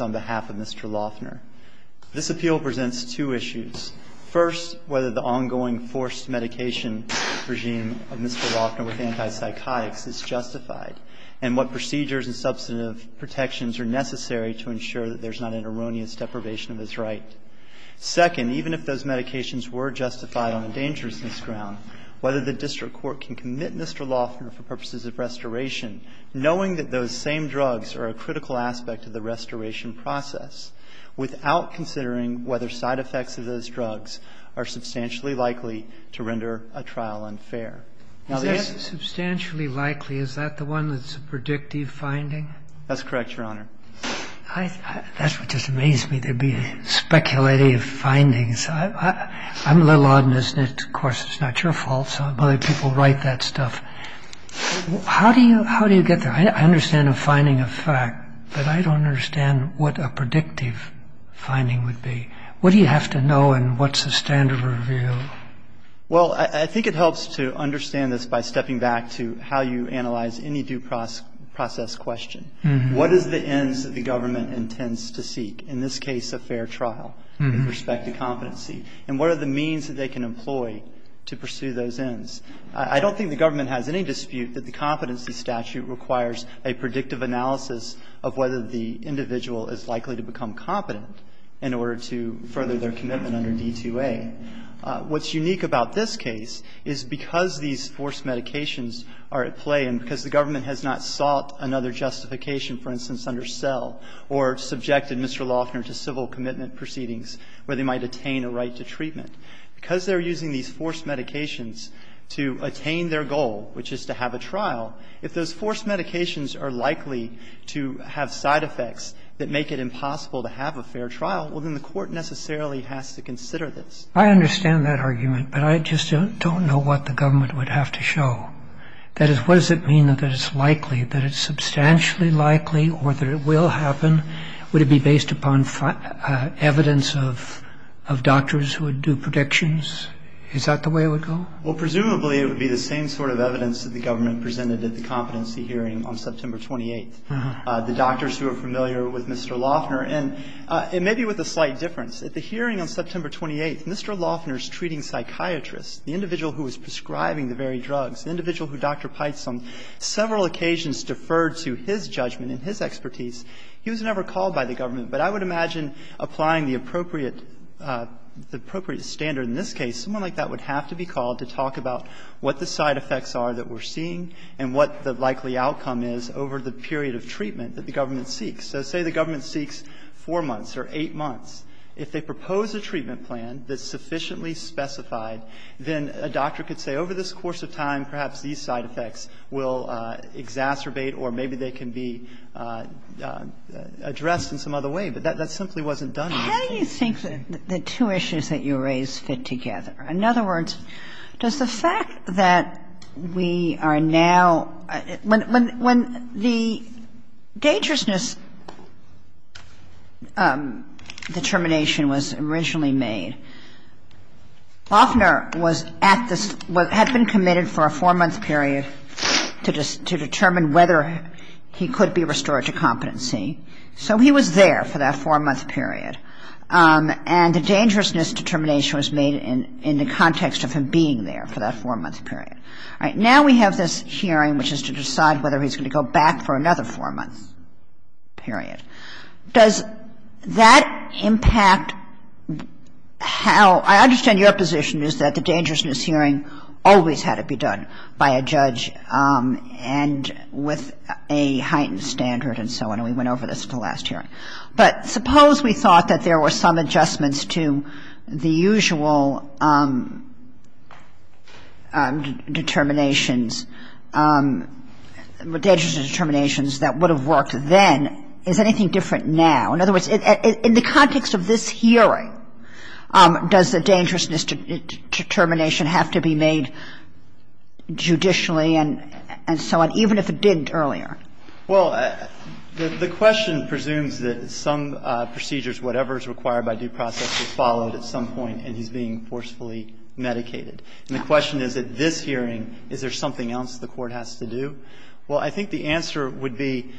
on behalf of Mr. Loughner. This appeal presents two issues. First, whether the ongoing forced medication regime of Mr. Loughner with antipsychotics is justified, and what procedures and substantive protections are necessary to ensure that there's not an erroneous deprivation of his right. Second, even if those medications were justified on a dangerousness ground, whether the district court can commit Mr. Loughner for purposes of this appeal to be held accountable for his actions. knowing that those same drugs are a critical aspect of the restoration process, without considering whether side effects of those drugs are substantially likely to render a trial unfair. Is that substantially likely? Is that the one that's a predictive finding? That's correct, Your Honor. That just amazes me to be speculating findings. I'm a little odd in this, and of course it's not your fault. Some other people write that stuff. How do you get there? I understand a finding of fact, but I don't understand what a predictive finding would be. What do you have to know, and what's the standard review? Well, I think it helps to understand this by stepping back to how you analyze any due process question. What are the ends that the government intends to seek, in this case a fair trial with respect to competency, and what are the means that they can employ to pursue those ends? I don't think the government has any dispute that the competency statute requires a predictive analysis of whether the individual is likely to become competent in order to further their commitment under D-2A. What's unique about this case is because these forced medications are at play, and because the government has not sought another justification, for instance, under SEL, or subjected Mr. Loughner to civil commitment proceedings where they might attain a right to treatment. Because they're using these forced medications to attain their goal, which is to have a trial, if those forced medications are likely to have side effects that make it impossible to have a fair trial, well then the court necessarily has to consider this. I understand that argument, but I just don't know what the government would have to show. That is, what does it mean that it's likely, that it's substantially likely, or that it will happen? Would it be based upon evidence of doctors who would do predictions? Is that the way it would go? Well, presumably it would be the same sort of evidence that the government presented at the competency hearing on September 28th. The doctors who are familiar with Mr. Loughner, and maybe with a slight difference. At the hearing on September 28th, Mr. Loughner's treating psychiatrist, the individual who was prescribing the very drugs, the individual who Dr. Pites on several occasions deferred to his judgment and his expertise, he was never called by the government. But I would imagine applying the appropriate standard in this case, someone like that would have to be called to talk about what the side effects are that we're seeing, and what the likely outcome is over the period of treatment that the government seeks. Let's say the government seeks four months or eight months. If they propose a treatment plan that's sufficiently specified, then a doctor could say, over this course of time, perhaps these side effects will exacerbate, or maybe they can be addressed in some other way. But that simply wasn't done. How do you think the two issues that you raised fit together? In other words, does the fact that we are now, when the dangerousness determination was originally made, Loughner had been committed for a four-month period to determine whether he could be restored to competency. So he was there for that four-month period. And the dangerousness determination was made in the context of him being there for that four-month period. Now we have this hearing which is to decide whether he's going to go back for another four-month period. Does that impact how, I understand your position is that the dangerousness hearing always had to be done by a judge, and with a heightened standard and so on. We went over this in the last hearing. But suppose we thought that there were some adjustments to the usual determinations, the dangerousness determinations that would have worked then. Is anything different now? In other words, in the context of this hearing, does the dangerousness determination have to be made judicially and so on, even if it didn't earlier? Well, the question presumes that some procedures, whatever is required by due process, is followed at some point and he's being forcefully medicated. And the question is, at this hearing, is there something else the court has to do? Well, I think the answer would be,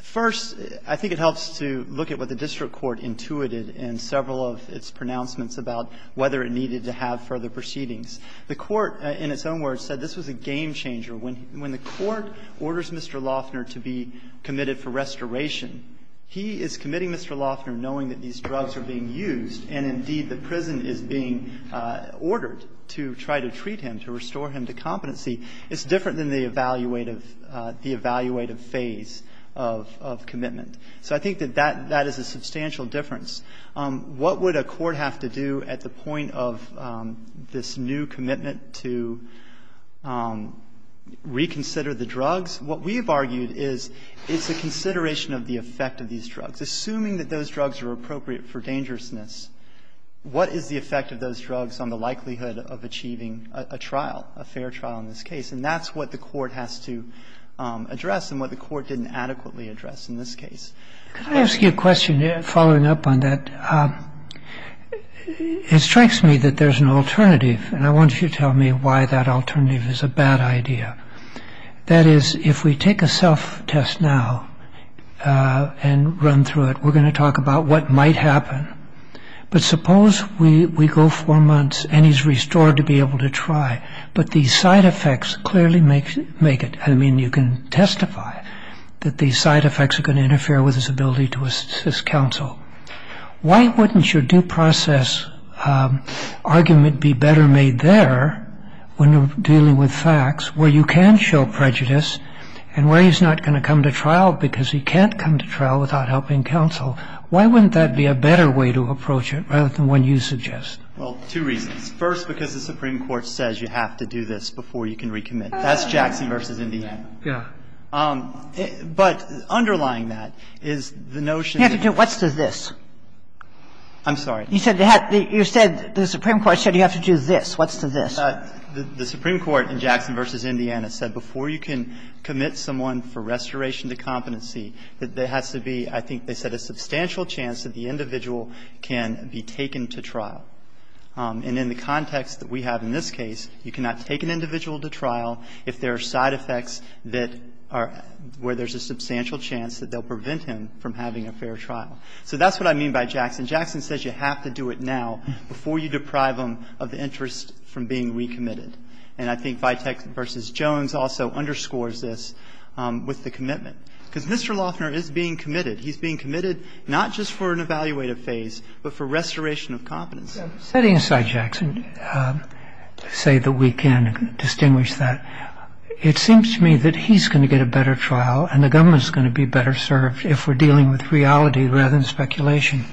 first, I think it helps to look at what the district court intuited in several of its pronouncements about whether it needed to have further proceedings. The court, in its own words, said this was a game-changer. When the court orders Mr. Loeffner to be committed for restoration, he is committing Mr. Loeffner knowing that these drugs are being used, and indeed the prison is being ordered to try to treat him, to restore him to competency. It's different than the evaluative phase of commitment. So I think that that is a substantial difference. What would a court have to do at the point of this new commitment to reconsider the drugs? What we've argued is it's a consideration of the effect of these drugs. Assuming that those drugs are appropriate for dangerousness, what is the effect of those drugs on the likelihood of achieving a trial, a fair trial in this case? And that's what the court has to address and what the court didn't adequately address in this case. Can I ask you a question following up on that? It strikes me that there's an alternative, and I want you to tell me why that alternative is a bad idea. That is, if we take a self-test now and run through it, we're going to talk about what might happen. But suppose we go four months and he's restored to be able to try, but the side effects clearly make it. I mean, you can testify that the side effects are going to interfere with his ability to assist counsel. Why wouldn't your due process argument be better made there when dealing with facts where you can show prejudice and where he's not going to come to trial because he can't come to trial without helping counsel? Why wouldn't that be a better way to approach it rather than what you suggest? Well, two reasons. First, because the Supreme Court says you have to do this before you can recommit. That's Jackson v. Indiana. Yeah. But underlying that is the notion that you have to do this. What's the this? I'm sorry. You said the Supreme Court said you have to do this. What's the this? The Supreme Court in Jackson v. Indiana said before you can commit someone for restoration to competency, that there has to be, I think they said, a substantial chance that the individual can be taken to trial. And in the context that we have in this case, you cannot take an individual to trial if there are side effects that are, where there's a substantial chance that they'll prevent him from having a fair trial. So that's what I mean by Jackson. Jackson says you have to do it now before you deprive him of the interest from being recommitted. And I think Vitek v. Jones also underscores this with the commitment. Because Mr. Lochner is being committed. He's being committed not just for an evaluative phase, but for restoration of competency. Setting aside Jackson, say that we can distinguish that, it seems to me that he's going to get a better trial and the government is going to be better served if we're dealing with reality rather than speculation.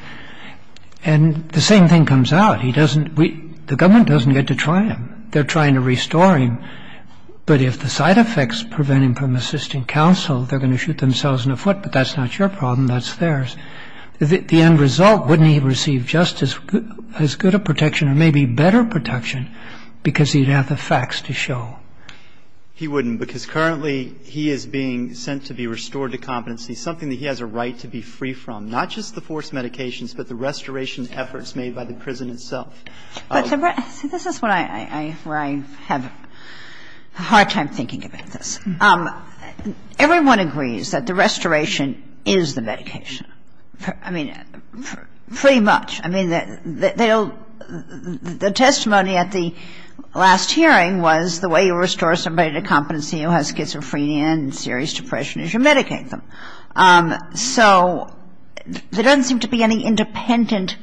And the same thing comes out. He doesn't, the government doesn't get to try him. They're trying to restore him. But if the side effects prevent him from assisting counsel, they're going to shoot themselves in the foot. But that's not your problem. That's theirs. The end result, wouldn't he receive just as good a protection or maybe better protection because he'd have the facts to show? He wouldn't because currently he is being sent to be restored to competency, something that he has a right to be free from, not just the forced medications, but the restoration efforts made by the prison itself. This is where I have a hard time thinking about this. Everyone agrees that the restoration is the medication. I mean, pretty much. I mean, the testimony at the last hearing was the way you restore somebody to competency who has schizophrenia and serious depression is you medicate them. So there doesn't seem to be any independent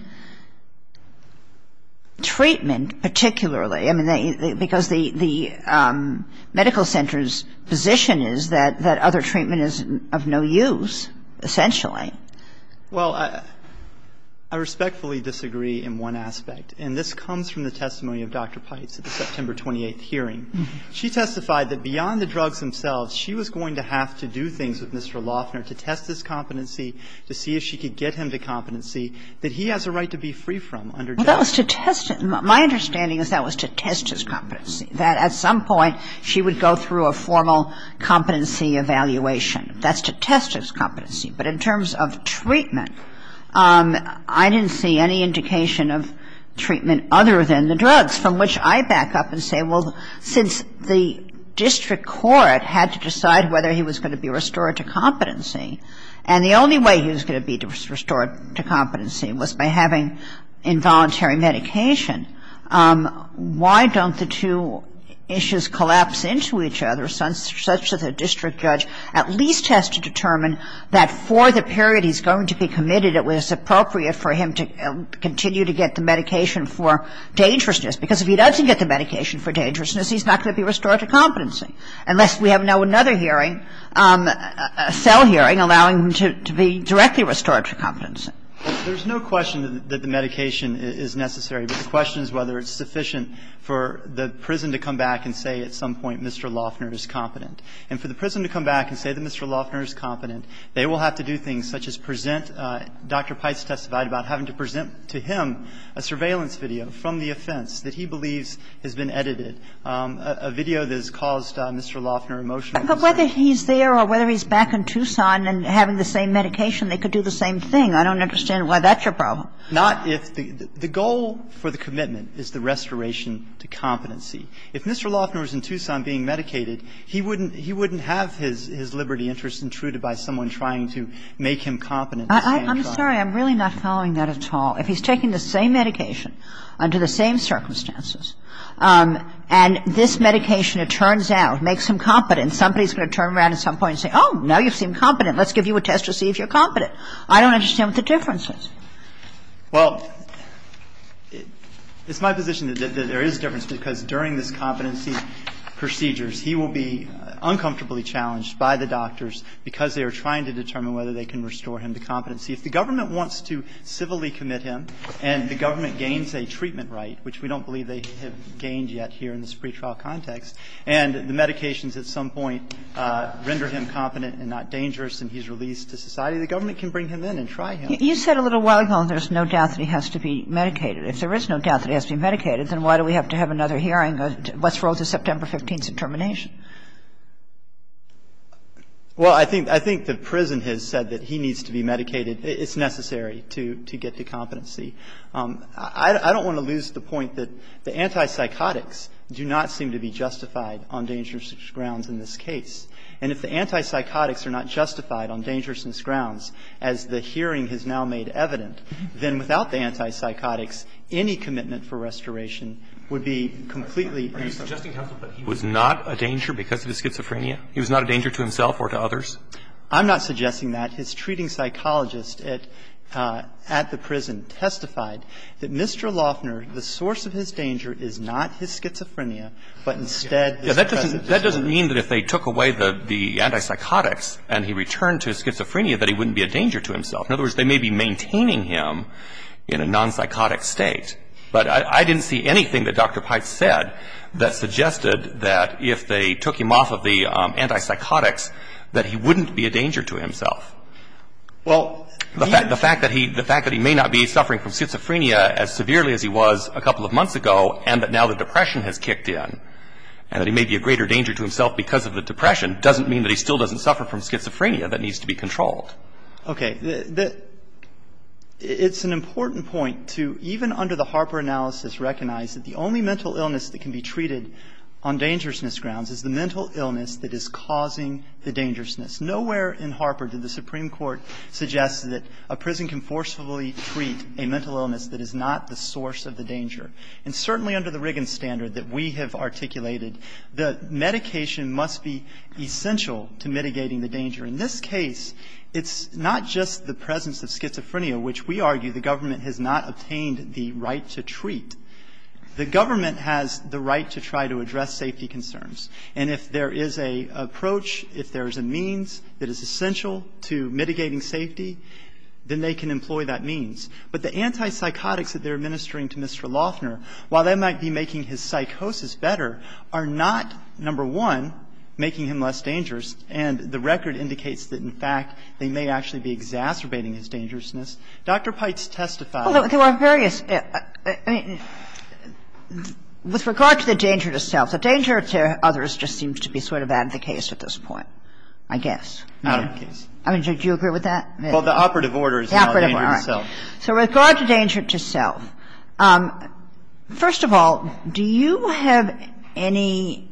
treatment particularly. Because the medical center's position is that other treatment is of no use essentially. Well, I respectfully disagree in one aspect, and this comes from the testimony of Dr. Pites at the September 28th hearing. She testified that beyond the drugs themselves, she was going to have to do things with Mr. Loffner to test his competency, to see if she could get him to competency that he has a right to be free from. My understanding is that was to test his competency, that at some point she would go through a formal competency evaluation. That's to test his competency. But in terms of treatment, I didn't see any indication of treatment other than the drugs, from which I back up and say, well, since the district court had to decide whether he was going to be restored to competency, and the only way he was going to be restored to competency was by having involuntary medication, why don't the two issues collapse into each other such that the district judge at least has to determine that for the period he's going to be committed, it was appropriate for him to continue to get the medication for dangerousness. Because if he doesn't get the medication for dangerousness, he's not going to be restored to competency. Unless we have another hearing, a cell hearing, allowing him to be directly restored to competency. There's no question that the medication is necessary, but the question is whether it's sufficient for the prison to come back and say at some point, Mr. Loffner is competent. And for the prison to come back and say that Mr. Loffner is competent, they will have to do things such as present, Dr. Pipes testified about having to present to him a surveillance video from the offense that he believes has been edited. A video that has caused Mr. Loffner emotional distress. But whether he's there or whether he's back in Tucson and having the same medication, they could do the same thing. I don't understand why that's a problem. The goal for the commitment is the restoration to competency. If Mr. Loffner was in Tucson being medicated, he wouldn't have his liberty interest intruded by someone trying to make him competent. I'm sorry, I'm really not following that at all. If he's taking the same medication under the same circumstances, and this medication, it turns out, makes him competent, somebody's going to turn around at some point and say, oh, now you seem competent. Let's give you a test to see if you're competent. I don't understand what the difference is. Well, it's my position that there is a difference because during the competency procedures, he will be uncomfortably challenged by the doctors because they are trying to determine whether they can restore him to competency. If the government wants to civilly commit him and the government gains a treatment right, which we don't believe they have gained yet here in this pretrial context, and the medications at some point render him competent and not dangerous and he's released to society, the government can bring him in and try him. You said a little while ago there's no doubt that he has to be medicated. If there is no doubt that he has to be medicated, then why do we have to have another hearing? Let's roll to September 15th and termination. Well, I think the prison has said that he needs to be medicated. It's necessary to get the competency. I don't want to lose the point that the antipsychotics do not seem to be justified on dangerous grounds in this case. And if the antipsychotics are not justified on dangerous grounds, as the hearing has now made evident, then without the antipsychotics, any commitment for restoration would be completely... Are you suggesting, counsel, that he was not a danger because of his schizophrenia? He was not a danger to himself or to others? I'm not suggesting that. His treating psychologist at the prison testified that Mr. Loeffner, the source of his danger is not his schizophrenia, but instead... That doesn't mean that if they took away the antipsychotics and he returned to his schizophrenia that he wouldn't be a danger to himself. In other words, they may be maintaining him in a nonpsychotic state. But I didn't see anything that Dr. Pyte said that suggested that if they took him off of the antipsychotics, that he wouldn't be a danger to himself. Well, the fact that he may not be suffering from schizophrenia as severely as he was a couple of months ago, and that now the depression has kicked in, and that he may be a greater danger to himself because of the depression, doesn't mean that he still doesn't suffer from schizophrenia that needs to be controlled. Okay. It's an important point to, even under the Harper analysis, recognize that the only mental illness that can be treated on dangerousness grounds is the mental illness that is causing the dangerousness. Nowhere in Harper did the Supreme Court suggest that a prison can forcefully treat a mental illness that is not the source of the danger. And certainly under the Riggins standard that we have articulated, the medication must be essential to mitigating the danger. In this case, it's not just the presence of schizophrenia, which we argue the government has not obtained the right to treat. The government has the right to try to address safety concerns. And if there is an approach, if there is a means that is essential to mitigating safety, then they can employ that means. But the antipsychotics that they're administering to Mr. Loeffner, while that might be making his psychosis better, are not, number one, making him less dangerous, and the record indicates that, in fact, they may actually be exacerbating his dangerousness. Dr. Pites testified... Well, there are various... With regard to the danger to self, the danger to others just seems to be sort of advocated at this point, I guess. I mean, do you agree with that? Well, the operative order is the danger to self. So with regard to danger to self, First of all, do you have any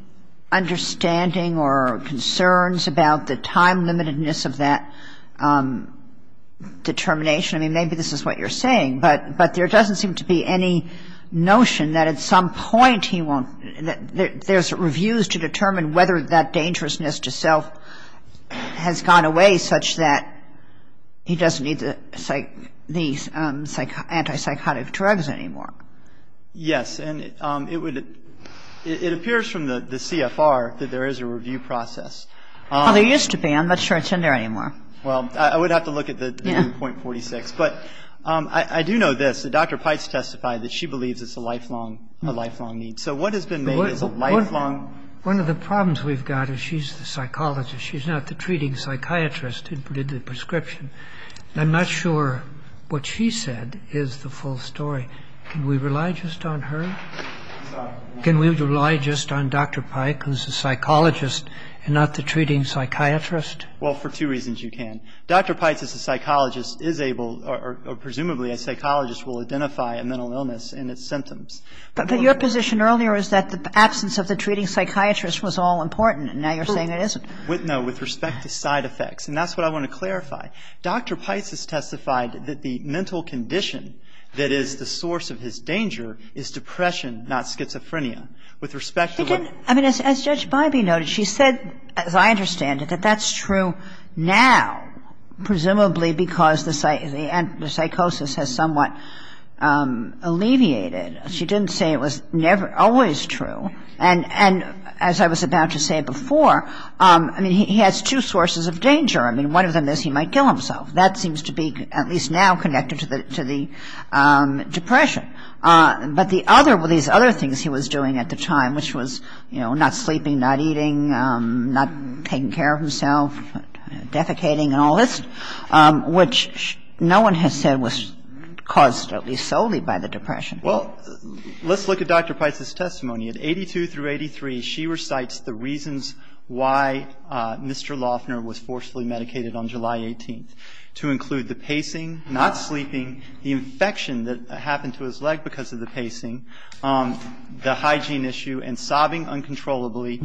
understanding or concerns about the time-limitedness of that determination? I mean, maybe this is what you're saying, but there doesn't seem to be any notion that at some point he won't... There's reviews to determine whether that dangerousness to self has gone away such that he doesn't need the antipsychotic drugs anymore. Yes, and it appears from the CFR that there is a review process. Well, there used to be. I'm not sure it's in there anymore. Well, I would have to look at the .46. But I do know this. Dr. Pites testified that she believes it's a lifelong need. So what has been made of the lifelong... One of the problems we've got is she's the psychologist. She's not the treating psychiatrist who did the prescription. I'm not sure what she said is the full story. Can we rely just on her? Can we rely just on Dr. Pite, who's the psychologist, and not the treating psychiatrist? Well, for two reasons you can. Dr. Pite, as a psychologist, is able... or presumably a psychologist will identify a mental illness and its symptoms. But your position earlier is that the absence of the treating psychiatrist was all important. Now you're saying it isn't. No, with respect to side effects. And that's what I want to clarify. Dr. Pites has testified that the mental condition that is the source of his danger is depression, not schizophrenia. I mean, as Judge Bybee noted, she said, as I understand it, that that's true now, presumably because the psychosis has somewhat alleviated. She didn't say it was always true. And as I was about to say before, he has two sources of danger. One of them is he might kill himself. That seems to be, at least now, connected to the depression. But these other things he was doing at the time, which was not sleeping, not eating, not taking care of himself, defecating and all this, which no one has said was caused, at least solely, by the depression. Well, let's look at Dr. Pites' testimony. At 82 through 83, she recites the reasons why Mr. Loeffner was forcefully medicated on July 18th to include the pacing, not sleeping, the infection that happened to his leg because of the pacing, the hygiene issue, and sobbing uncontrollably,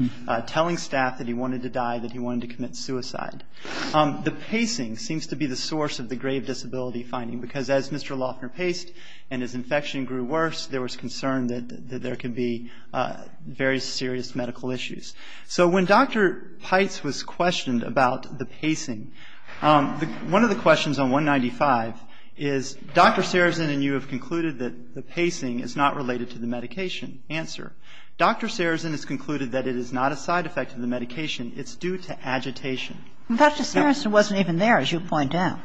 telling staff that he wanted to die, that he wanted to commit suicide. The pacing seems to be the source of the grave disability finding, because as Mr. Loeffner paced and his infection grew worse, there was concern that there could be very serious medical issues. So when Dr. Pites was questioned about the pacing, one of the questions on 195 is, Dr. Sarazin and you have concluded that the pacing is not related to the medication answer. Dr. Sarazin has concluded that it is not a side effect of the medication. It's due to agitation. Dr. Sarazin wasn't even there, as you point out.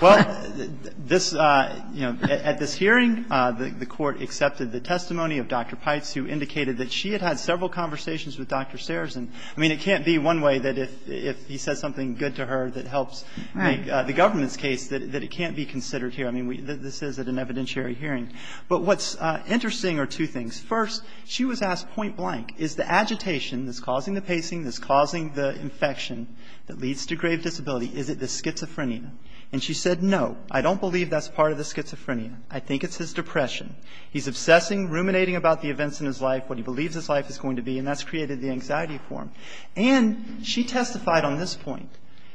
Well, at this hearing, the court accepted the testimony of Dr. Pites, who indicated that she had had several conversations with Dr. Sarazin. I mean, it can't be one way that if he said something good to her that helps make the government's case that it can't be considered here. I mean, this is an evidentiary hearing. But what's interesting are two things. First, she was asked point blank, is the agitation that's causing the pacing, that's causing the infection, that leads to grave disability, is it the schizophrenia? And she said, no, I don't believe that's part of the schizophrenia. I think it's his depression. He's obsessing, ruminating about the events in his life, what he believes his life is going to be, and that's created the anxiety for him. And she testified on this point.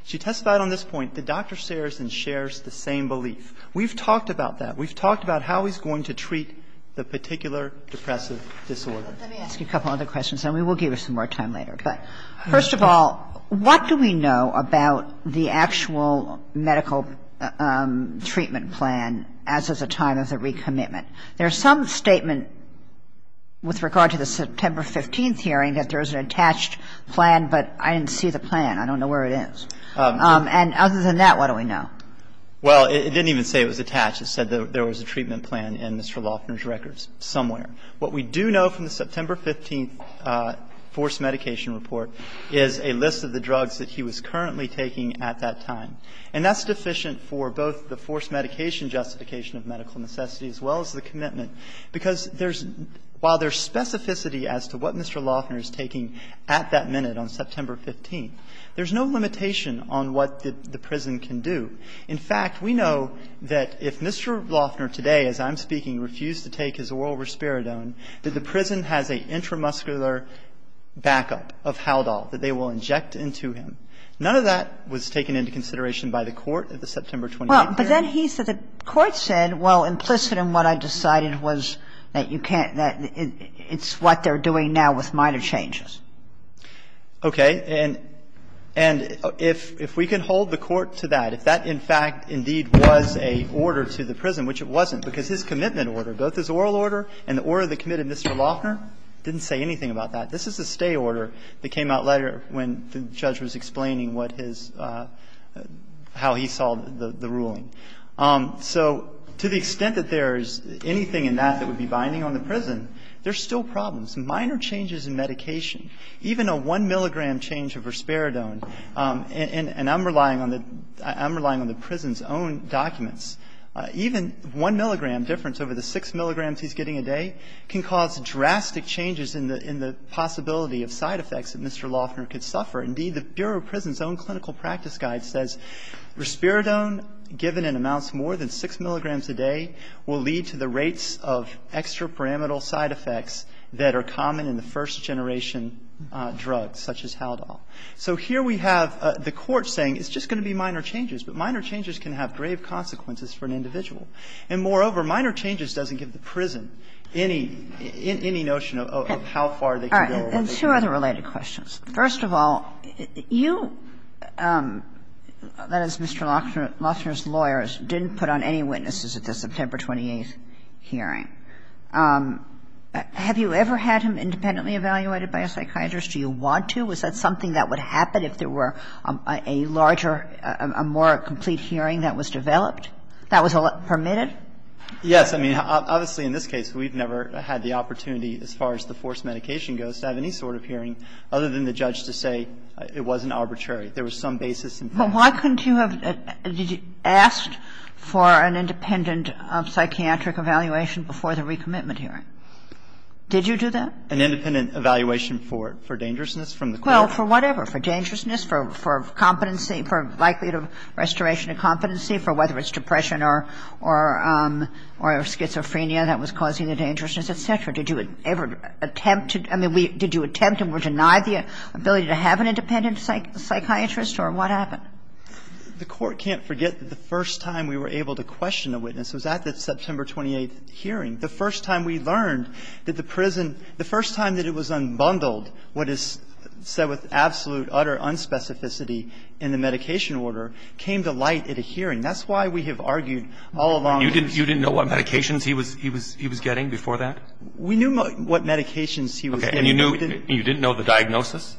She testified on this point that Dr. Sarazin shares the same belief. We've talked about that. We'll give her some more time later. First of all, what do we know about the actual medical treatment plan as of the time of the recommitment? There's some statement with regard to the September 15th hearing that there's an attached plan, but I didn't see the plan. I don't know where it is. And other than that, what do we know? Well, it didn't even say it was attached. It said there was a treatment plan in Mr. Lofner's records somewhere. What we do know from the September 15th forced medication report is a list of the drugs that he was currently taking at that time. And that's sufficient for both the forced medication justification of medical necessity as well as the commitment, because while there's specificity as to what Mr. Lofner is taking at that minute on September 15th, there's no limitation on what the prison can do. In fact, we know that if Mr. Lofner today, as I'm speaking, refused to take his oral risperidone, that the prison has an intramuscular backup of Haldol that they will inject into him. None of that was taken into consideration by the court at the September 25th hearing. But then the court said, well, implicit in what I decided was that it's what they're doing now with minor changes. Okay. And if we can hold the court to that, if that, in fact, indeed was an order to the prison, which it wasn't, because his commitment order, both his oral order and the order that committed Mr. Lofner, didn't say anything about that. This is a stay order that came out later when the judge was explaining what his – how he saw the ruling. So to the extent that there is anything in that that would be binding on the prison, there's still problems. Minor changes in medication, even a one milligram change of risperidone, and I'm relying on the prison's own documents, even one milligram difference over the six milligrams he's getting a day can cause drastic changes in the possibility of side effects that Mr. Lofner could suffer. Indeed, the Bureau of Prisons' own clinical practice guide says risperidone given in amounts more than six milligrams a day will lead to the rates of extrapyramidal side effects that are common in the first generation drugs, such as Haldol. So here we have the court saying it's just going to be minor changes, but minor changes can have grave consequences for an individual. And moreover, minor changes doesn't give the prison any notion of how far they can go. All right. And two other related questions. First of all, you, that is Mr. Lofner's lawyers, didn't put on any witnesses at the September 28th hearing. Have you ever had him independently evaluated by a psychiatrist? Do you want to? Was that something that would happen if there were a larger, a more complete hearing that was developed, that was permitted? Yes. I mean, obviously in this case we've never had the opportunity, as far as the forced medication goes, to have any sort of hearing other than the judge to say it wasn't arbitrary. There was some basis. But why couldn't you have asked for an independent psychiatric evaluation before the recommitment hearing? Did you do that? An independent evaluation for dangerousness from the court? Well, for whatever. For dangerousness, for competency, for likelihood of restoration of competency, for whether it's depression or schizophrenia that was causing the dangerousness, et cetera. Did you ever attempt to, I mean, did you attempt and were denied the ability to have an independent psychiatrist? Or what happened? The court can't forget that the first time we were able to question a witness was at the September 28th hearing. The first time we learned that the prison, the first time that it was unbundled, what is said with absolute, utter unspecificity in the medication order, came to light at a hearing. That's why we have argued all along. You didn't know what medications he was getting before that? We knew what medications he was getting. Okay. And you didn't know the diagnosis?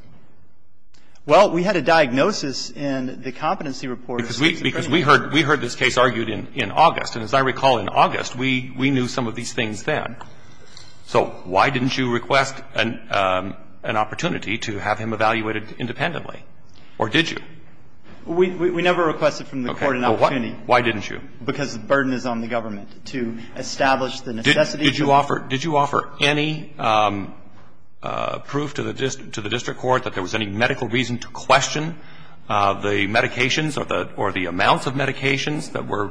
Well, we had a diagnosis in the competency report. Because we heard this case argued in August. And as I recall, in August, we knew some of these things then. So why didn't you request an opportunity to have him evaluated independently? Or did you? We never requested from the court an opportunity. Okay. Why didn't you? Because the burden is on the government to establish the necessity. Did you offer any proof to the district court that there was any medical reason to question the medications or the amounts of medications that were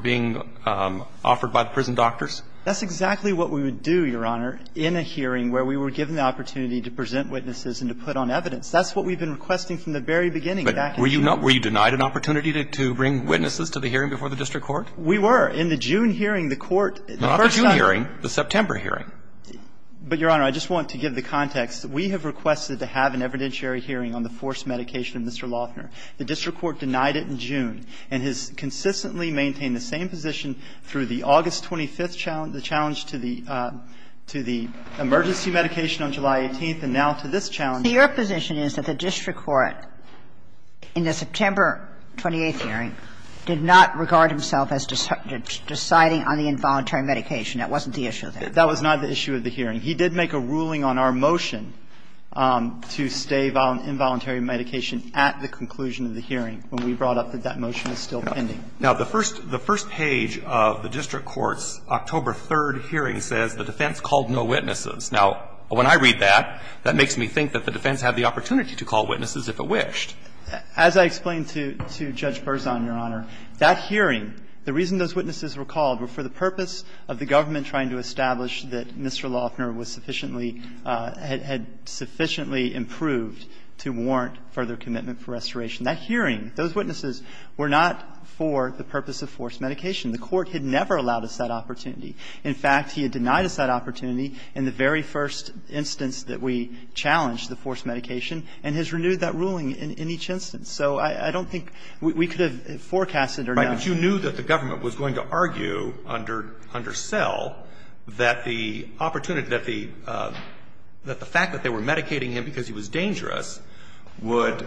being offered by the prison doctors? That's exactly what we would do, Your Honor, in a hearing where we were given the opportunity to present witnesses and to put on evidence. That's what we've been requesting from the very beginning. But were you denied an opportunity to bring witnesses to the hearing before the district court? We were. In the June hearing, the court ---- Not the June hearing. The September hearing. But, Your Honor, I just want to give the context. We have requested to have an evidentiary hearing on the forced medication of Mr. Loffner. The district court denied it in June and has consistently maintained the same position through the August 25th challenge, the challenge to the emergency medication on July 18th and now to this challenge. Your position is that the district court, in the September 28th hearing, did not regard himself as deciding on the involuntary medication. That wasn't the issue there. That was not the issue of the hearing. He did make a ruling on our motion to stay on involuntary medication at the conclusion of the hearing when we brought up that that motion was still pending. Now, the first page of the district court's October 3rd hearing says the defense called no witnesses. Now, when I read that, that makes me think that the defense had the opportunity to call witnesses if it wished. As I explained to Judge Berzon, Your Honor, that hearing, the reason those witnesses were called were for the purpose of the government trying to establish that Mr. Loffner was sufficiently ---- had sufficiently improved to warrant further commitment for restoration. That hearing, those witnesses were not for the purpose of forced medication. The court had never allowed us that opportunity. In fact, he had denied us that opportunity in the very first instance that we challenged the forced medication and has renewed that ruling in each instance. So I don't think we could have forecasted or known. Right, but you knew that the government was going to argue under cell that the opportunity, that the fact that they were medicating him because he was dangerous would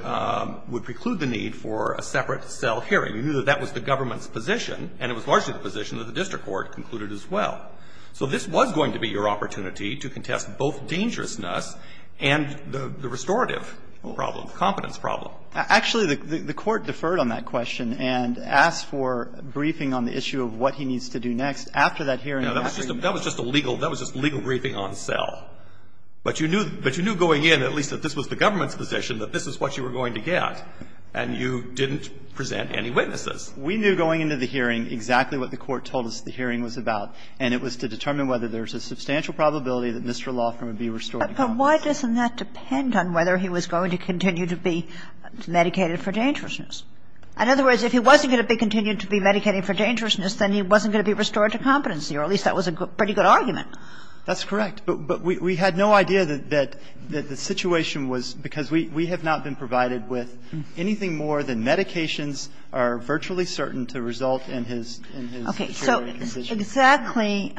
preclude the need for a separate cell hearing. You knew that that was the government's position, and it was largely the position that the district court concluded as well. So this was going to be your opportunity to contest both dangerousness and the restorative problem, confidence problem. Actually, the court deferred on that question and asked for a briefing on the issue of what he needs to do next. After that hearing ---- No, that was just a legal briefing on cell. But you knew going in, at least, that this was the government's position, that this is what you were going to get, and you didn't present any witnesses. We knew going into the hearing exactly what the court told us the hearing was about, and it was to determine whether there was a substantial probability that Mr. Loffram would be restored to confidence. But why doesn't that depend on whether he was going to continue to be medicated for dangerousness? In other words, if he wasn't going to be continued to be medicated for dangerousness, then he wasn't going to be restored to competency, or at least that was a pretty good argument. That's correct. But we had no idea that the situation was ---- because we have not been provided with anything more than medications are virtually certain to result in his deteriorating condition. Okay. So exactly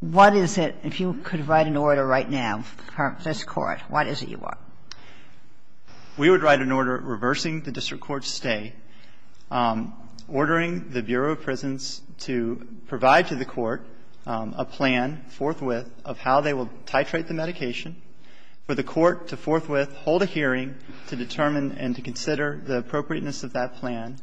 what is it, if you could write an order right now for this court, what is it you want? We would write an order reversing the district court's stay, ordering the Bureau of Prisons to provide to the court a plan forthwith of how they will titrate the medication, for the court to forthwith hold a hearing to determine and to consider the appropriateness of that plan,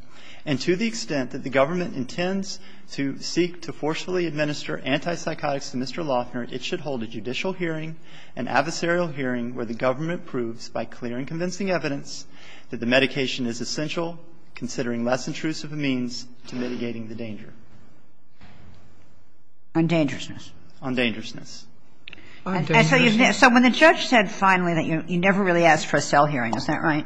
and to the extent that the government intends to seek to forcefully administer antipsychotics to Mr. Loffram, it should hold a judicial hearing, an adversarial hearing, where the government proves by clear and convincing evidence that the medication is essential, considering less intrusive means to mitigating the danger. On dangerousness. On dangerousness. So when the judge said finally that you never really asked for a cell hearing, is that right?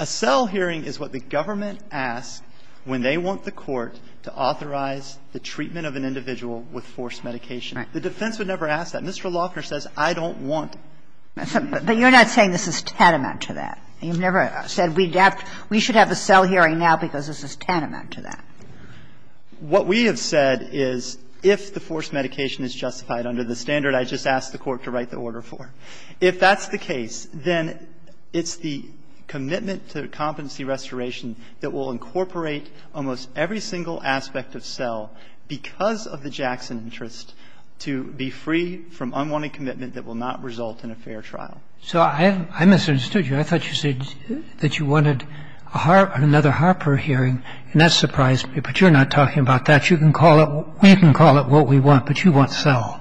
A cell hearing is what the government asks when they want the court to authorize the treatment of an individual with forced medication. The defense would never ask that. Mr. Loffram says I don't want it. But you're not saying this is tantamount to that. You've never said we should have a cell hearing now because this is tantamount to that. What we have said is if the forced medication is justified under the standard I just asked the court to write the order for. If that's the case, then it's the commitment to competency restoration that will incorporate almost every single aspect of cell, because of the Jackson interest to be free from unwanted commitment that will not result in a fair trial. So I misunderstood you. I thought you said that you wanted another Harper hearing, and that surprised me. But you're not talking about that. You can call it what we want, but you want cell.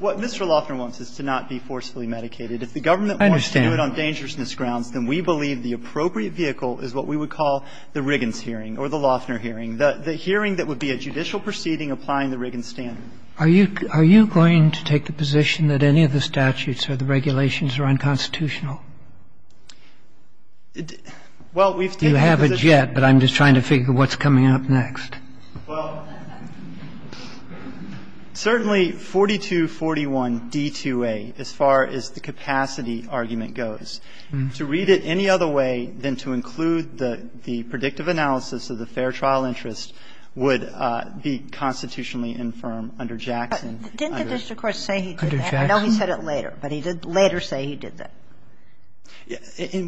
What Mr. Loffram wants is to not be forcefully medicated. If the government wants to do it on dangerousness grounds, then we believe the appropriate vehicle is what we would call the Riggins hearing or the Loffner hearing, the hearing that would be a judicial proceeding applying the Riggins standard. Are you going to take the position that any of the statutes or the regulations are unconstitutional? You have it yet, but I'm just trying to figure what's coming up next. Well, certainly 4241 D-2A, as far as the capacity argument goes, to read it any other way than to include the predictive analysis of the fair trial interest would be constitutionally infirm under Jackson. Didn't the district court say he did that? I know he said it later, but he did later say he did that.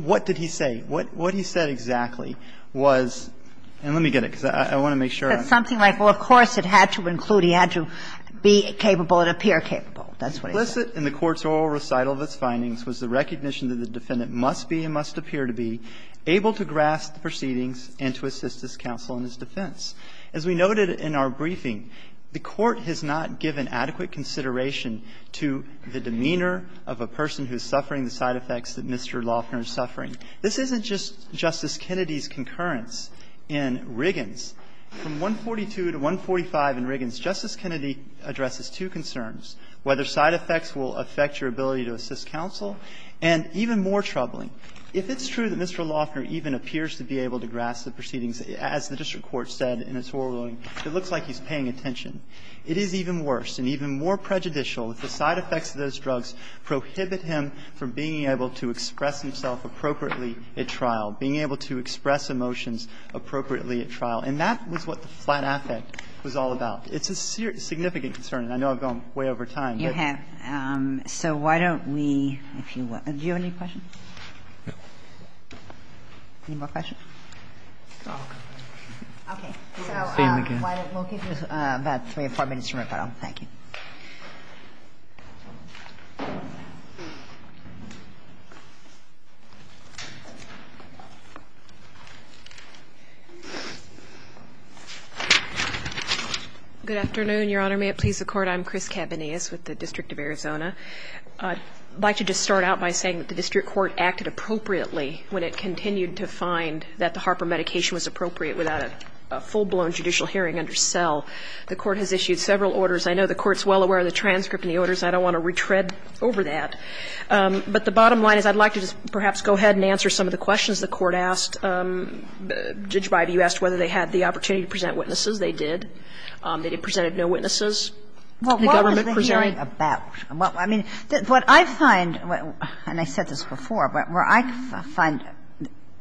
What did he say? What he said exactly was, and let me get it because I want to make sure. Something like, well, of course, it had to include, it had to be capable and appear capable. That's what he said. Implicit in the court's oral recital of its findings was the recognition that the defendant must be and must appear to be able to grasp the proceedings and to assist his counsel in his defense. As we noted in our briefing, the court has not given adequate consideration to the demeanor of a person who is suffering the side effects that Mr. Loffram is suffering. This isn't just Justice Kennedy's concurrence in Riggins. From 142 to 145 in Riggins, Justice Kennedy addresses two concerns, whether side effects will affect your ability to assist counsel, and even more troubling. If it's true that Mr. Loffram even appears to be able to grasp the proceedings, as the district court said in its oral ruling, it looks like he's paying attention. It is even worse and even more prejudicial if the side effects of those drugs prohibit him from being able to express himself appropriately at trial, being able to express emotions appropriately at trial. And that was what the flat affect was all about. It's a significant concern, and I know I've gone way over time. So why don't we... Do you have any questions? Any more questions? Okay. We'll give you about three or four minutes to refile. Thank you. Good afternoon, Your Honor. May it please the Court? I'm Chris Cavanius with the District of Arizona. I'd like to just start out by saying that the district court acted appropriately when it continued to find that the Harper medication was appropriate without a full-blown judicial hearing under cell. The court has issued several orders. I know the court's well aware of the transcript and the orders. I don't want to retread over that. But the bottom line is I'd like to just perhaps go ahead and answer some of the questions the court asked. Judge Beide, you asked whether they had the opportunity to present witnesses. They did. They did present no witnesses. Well, what was the hearing about? I mean, what I find, and I said this before, but where I find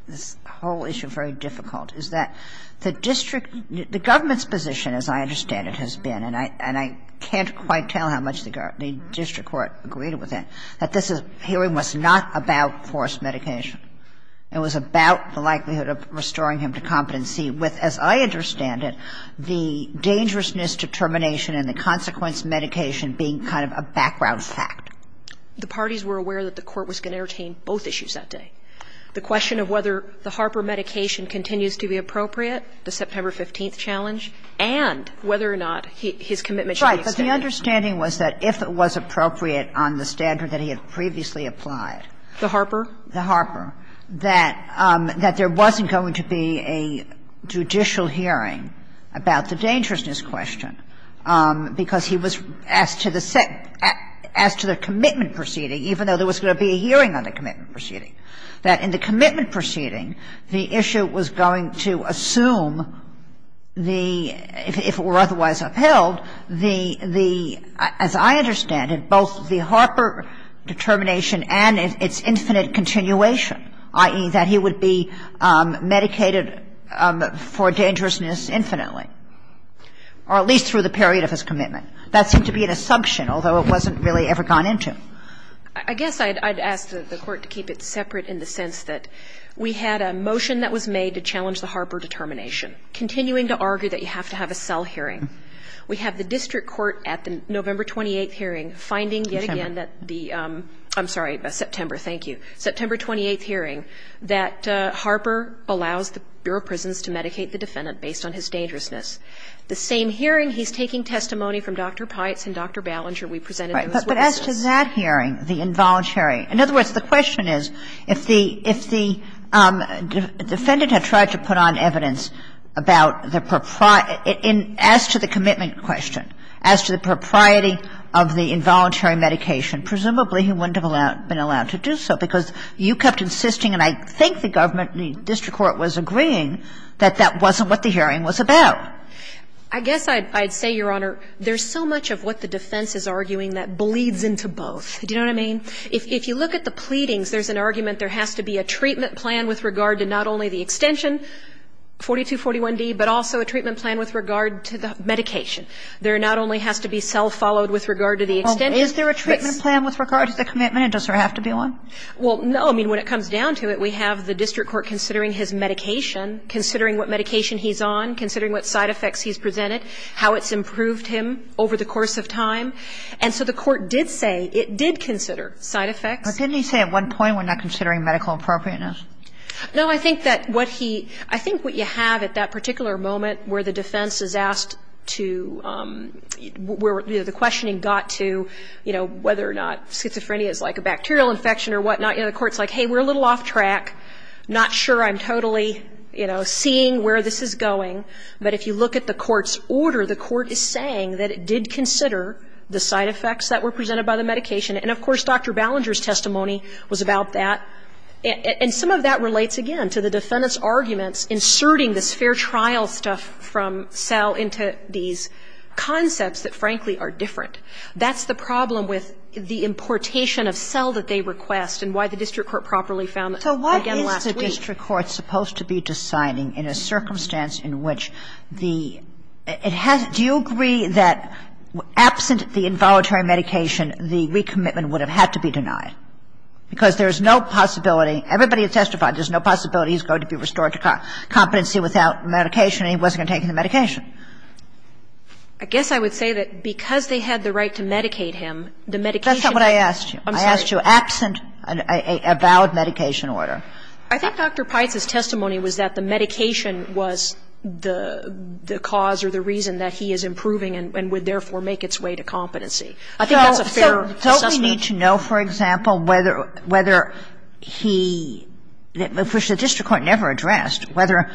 this whole issue very difficult is that the district, the government's position, as I understand it, has been, and I can't quite tell how much the district court agreed with it, that this hearing was not about forced medication. It was about the likelihood of restoring him to competency. And it was about the likelihood of restoring him to competency with, as I understand it, the dangerousness determination and the consequence of medication being kind of a background fact. The parties were aware that the court was going to entertain both issues that day, the question of whether the Harper medication continues to be appropriate, the September 15th challenge, and whether or not his commitment should be extended. Right. But the understanding was that if it was appropriate on the standard that he had previously applied. The Harper? The Harper. That there wasn't going to be a judicial hearing about the dangerousness question, because he was asked to the commitment proceeding, even though there was going to be a hearing on the commitment proceeding, that in the commitment proceeding, the issue was going to assume the, if it were otherwise upheld, the, as I understand it, both the Harper determination and its infinite continuation, i.e., that he would be medicated for dangerousness infinitely, or at least through the period of his commitment. That seemed to be an assumption, although it wasn't really ever gone into. I guess I'd ask the court to keep it separate in the sense that we had a motion that was made to challenge the Harper determination, continuing to argue that you have to have a cell hearing. We have the district court at the November 28th hearing finding yet again that the, I'm sorry, September, thank you, September 28th hearing that Harper allows the Bureau of Prisons to medicate the defendant based on his dangerousness. The same hearing, he's taking testimony from Dr. Pites and Dr. Ballinger. But as to that hearing, the involuntary, in other words, the question is, if the defendant had tried to put on evidence about the, as to the commitment question, as to the propriety of the involuntary medication, presumably he wouldn't have been allowed to do so, because you kept insisting, and I think the government, the district court was agreeing, that that wasn't what the hearing was about. I guess I'd say, Your Honor, there's so much of what the defense is arguing that bleeds into both. Do you know what I mean? If you look at the pleadings, there's an argument there has to be a treatment plan with regard to not only the extension, 4241B, but also a treatment plan with regard to the medication. There not only has to be cell followed with regard to the extension. Is there a treatment plan with regard to the commitment, or does there have to be one? Well, no. I mean, when it comes down to it, we have the district court considering his medication, considering what medication he's on, considering what side effects he's presented, how it's improved him over the course of time. And so the court did say it did consider side effects. But didn't he say at one point we're not considering medical appropriateness? No, I think that what he, I think what you have at that particular moment where the defense is asked to, where the questioning got to, you know, whether or not schizophrenia is like a bacterial infection or whatnot, the court's like, hey, we're a little off track, not sure I'm totally, you know, seeing where this is going. But if you look at the court's order, the court is saying that it did consider the side effects that were presented by the medication. And, of course, Dr. Ballinger's testimony was about that. And some of that relates, again, to the defendant's arguments inserting this fair trial stuff from cell into these concepts that, frankly, are different. That's the problem with the importation of cell that they request and why the district court properly found, again, last week. So what is the district court supposed to be deciding in a circumstance in which the, it has, do you agree that absent the involuntary medication the recommitment would have had to be denied? Because there's no possibility, everybody testified there's no possibility he's going to be restored to competency without medication and he wasn't going to take the medication. I guess I would say that because they had the right to medicate him, the medication... That's not what I asked you. I'm sorry. I asked you absent a valid medication order. I thought Dr. Price's testimony was that the medication was the cause or the reason that he is improving and would, therefore, make its way to competency. I think that's a fair... So we need to know, for example, whether he, which the district court never addressed, whether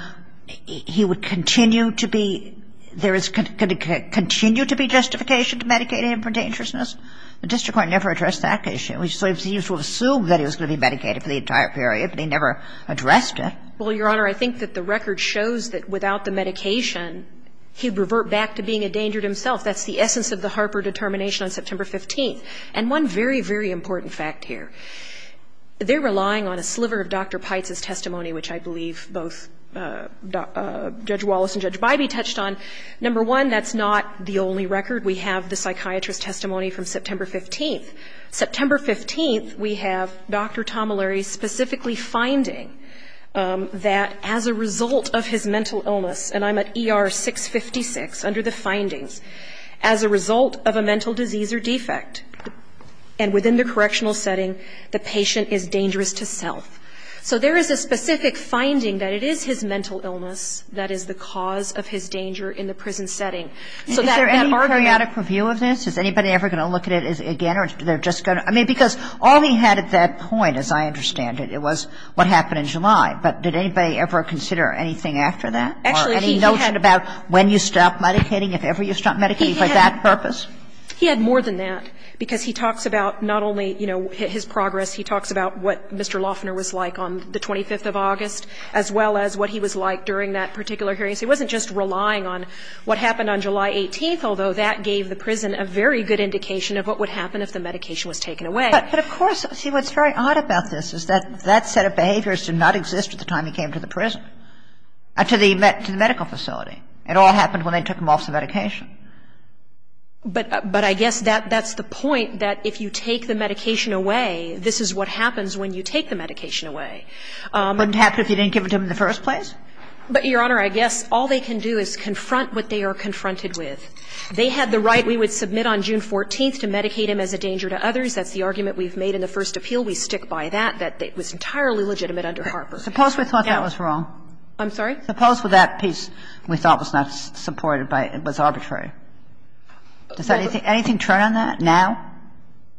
he would continue to be, there is going to continue to be justification to medicate him for dangerousness? The district court never addressed that issue. We sort of assumed that he was going to be medicated for the entire period, but they never addressed it. Well, Your Honor, I think that the record shows that without the medication he revert back to being a danger to himself. That's the essence of the Harper determination on September 15th. And one very, very important fact here. They're relying on a sliver of Dr. Price's testimony, which I believe both Judge Wallace and Judge Bybee touched on. Number one, that's not the only record. We have the psychiatrist's testimony from September 15th. September 15th, we have Dr. Tomilary specifically finding that as a result of his mental illness, and I'm at ER 656 under the findings, as a result of a mental disease or defect, and within the correctional setting, the patient is dangerous to self. So there is a specific finding that it is his mental illness that is the cause of his danger in the prison setting. Is there any periodic review of this? Is anybody ever going to look at it again? I mean, because all he had at that point, as I understand it, it was what happened in July. But did anybody ever consider anything after that? Actually, he did. Any notion about when you stopped medicating, if ever you stopped medicating for that purpose? He had more than that, because he talks about not only, you know, his progress. He talks about what Mr. Lofner was like on the 25th of August, as well as what he was like during that particular hearing. So he wasn't just relying on what happened on July 18th, although that gave the prison a very good indication of what would happen if the medication was taken away. But of course, see, what's very odd about this is that that set of behaviors did not exist at the time he came to the prison, to the medical facility. It all happened when they took him off the medication. But I guess that's the point, that if you take the medication away, this is what happens when you take the medication away. Wouldn't it happen if you didn't give it to him in the first place? But, Your Honor, I guess all they can do is confront what they are confronted with. They had the right, we would submit on June 14th, to medicate him as a danger to others. That's the argument we've made in the first appeal. We stick by that. That was entirely legitimate under Harper. Suppose we thought that was wrong. I'm sorry? Suppose that piece we thought was not supported was arbitrary. Does anything turn on that now?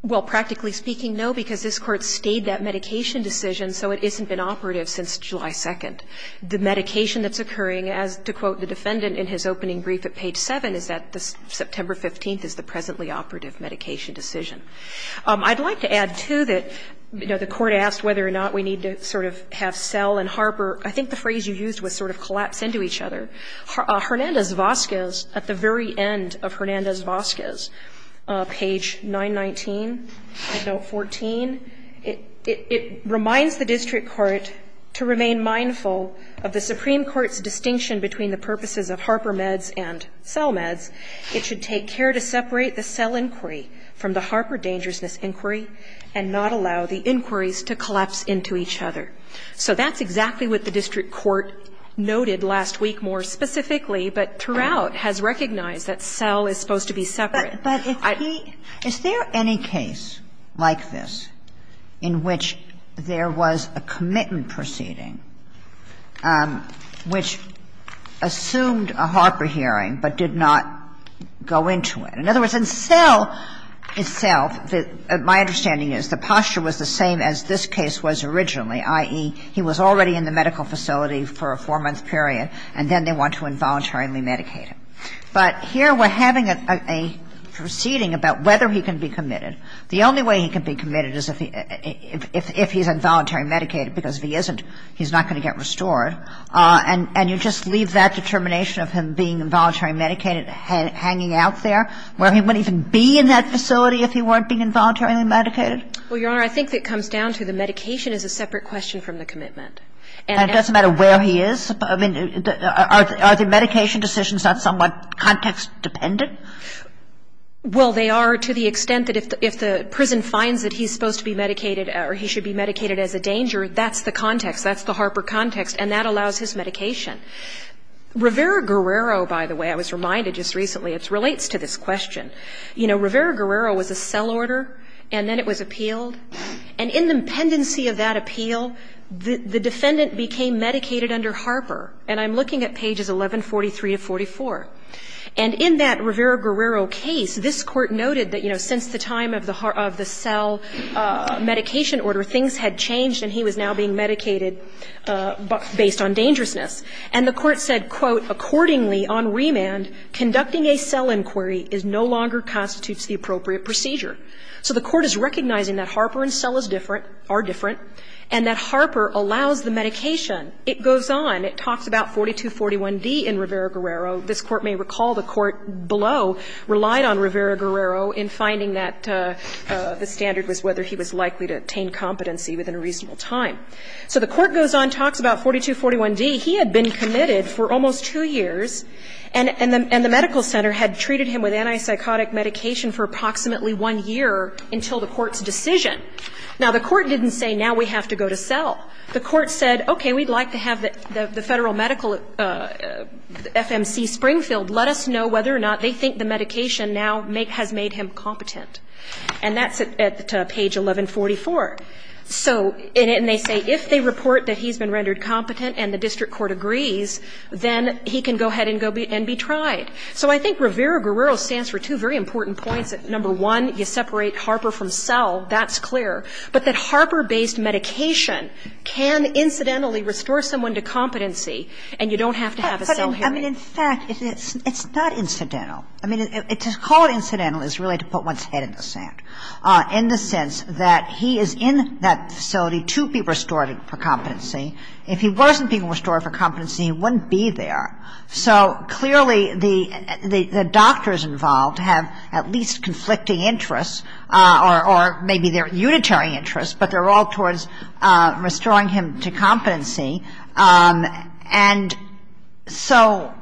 Well, practically speaking, no, because this Court stayed that medication decision, so it hasn't been operative since July 2nd. The medication that's occurring, to quote the defendant in his opening brief at page 7, is that September 15th is the presently operative medication decision. I'd like to add, too, that the Court asked whether or not we need to sort of have Sell and Harper, I think the phrase you used was sort of collapse into each other. Hernandez-Vazquez, at the very end of Hernandez-Vazquez, page 919, it reminds the District Court to remain mindful of the Supreme Court's distinction between the purposes of Harper meds and Sell meds. It should take care to separate the Sell inquiry from the Harper dangerousness inquiry and not allow the inquiries to collapse into each other. So that's exactly what the District Court noted last week more specifically, but Turow has recognized that Sell is supposed to be separate. But is there any case like this in which there was a commitment proceeding which assumed a Harper hearing but did not go into it? In other words, in Sell itself, my understanding is the posture was the same as this case was originally, i.e., he was already in the medical facility for a four-month period and then they went to involuntarily medicate him. But here we're having a proceeding about whether he can be committed. The only way he can be committed is if he's involuntarily medicated, because if he isn't, he's not going to get restored. And you just leave that determination of him being involuntarily medicated hanging out there where he wouldn't even be in that facility if he weren't being involuntarily medicated? Well, Your Honor, I think it comes down to the medication is a separate question from the commitment. And it doesn't matter where he is? Are the medication decisions not somewhat context-dependent? Well, they are to the extent that if the prison finds that he's supposed to be medicated or he should be medicated as a danger, that's the context, that's the Harper context, and that allows his medication. Rivera-Guerrero, by the way, I was reminded just recently, it relates to this question. You know, Rivera-Guerrero was a Sell order and then it was appealed. And in the pendency of that appeal, the defendant became medicated under Harper. And I'm looking at pages 1143 of 44. And in that Rivera-Guerrero case, this court noted that, you know, since the time of the Sell medication order, things had changed and he was now being medicated based on dangerousness. And the court said, quote, Accordingly, on remand, conducting a Sell inquiry no longer constitutes the appropriate procedure. So the court is recognizing that Harper and Sell are different, and that Harper allows the medication. It goes on. It talks about 4241D in Rivera-Guerrero. This court may recall the court below relied on Rivera-Guerrero in finding that the standard was whether he was likely to attain competency within a reasonable time. So the court goes on, talks about 4241D. And he had been committed for almost two years, and the medical center had treated him with antipsychotic medication for approximately one year until the court's decision. Now, the court didn't say, Now we have to go to Sell. The court said, Okay, we'd like to have the federal medical FMC Springfield let us know whether or not they think the medication now has made him competent. And that's at page 1144. And they say, If they report that he's been rendered competent and the district court agrees, then he can go ahead and be tried. So I think Rivera-Guerrero stands for two very important points. Number one, you separate Harper from Sell. That's clear. But that Harper-based medication can incidentally restore someone to competency, and you don't have to have it done here. I mean, in fact, it's not incidental. I mean, to call it incidental is really to put one's head in the sand in the sense that he is in that facility to be restored for competency. If he wasn't being restored for competency, he wouldn't be there. So clearly the doctors involved have at least conflicting interests or maybe they're unitary interests, but they're all towards restoring him to competency. And so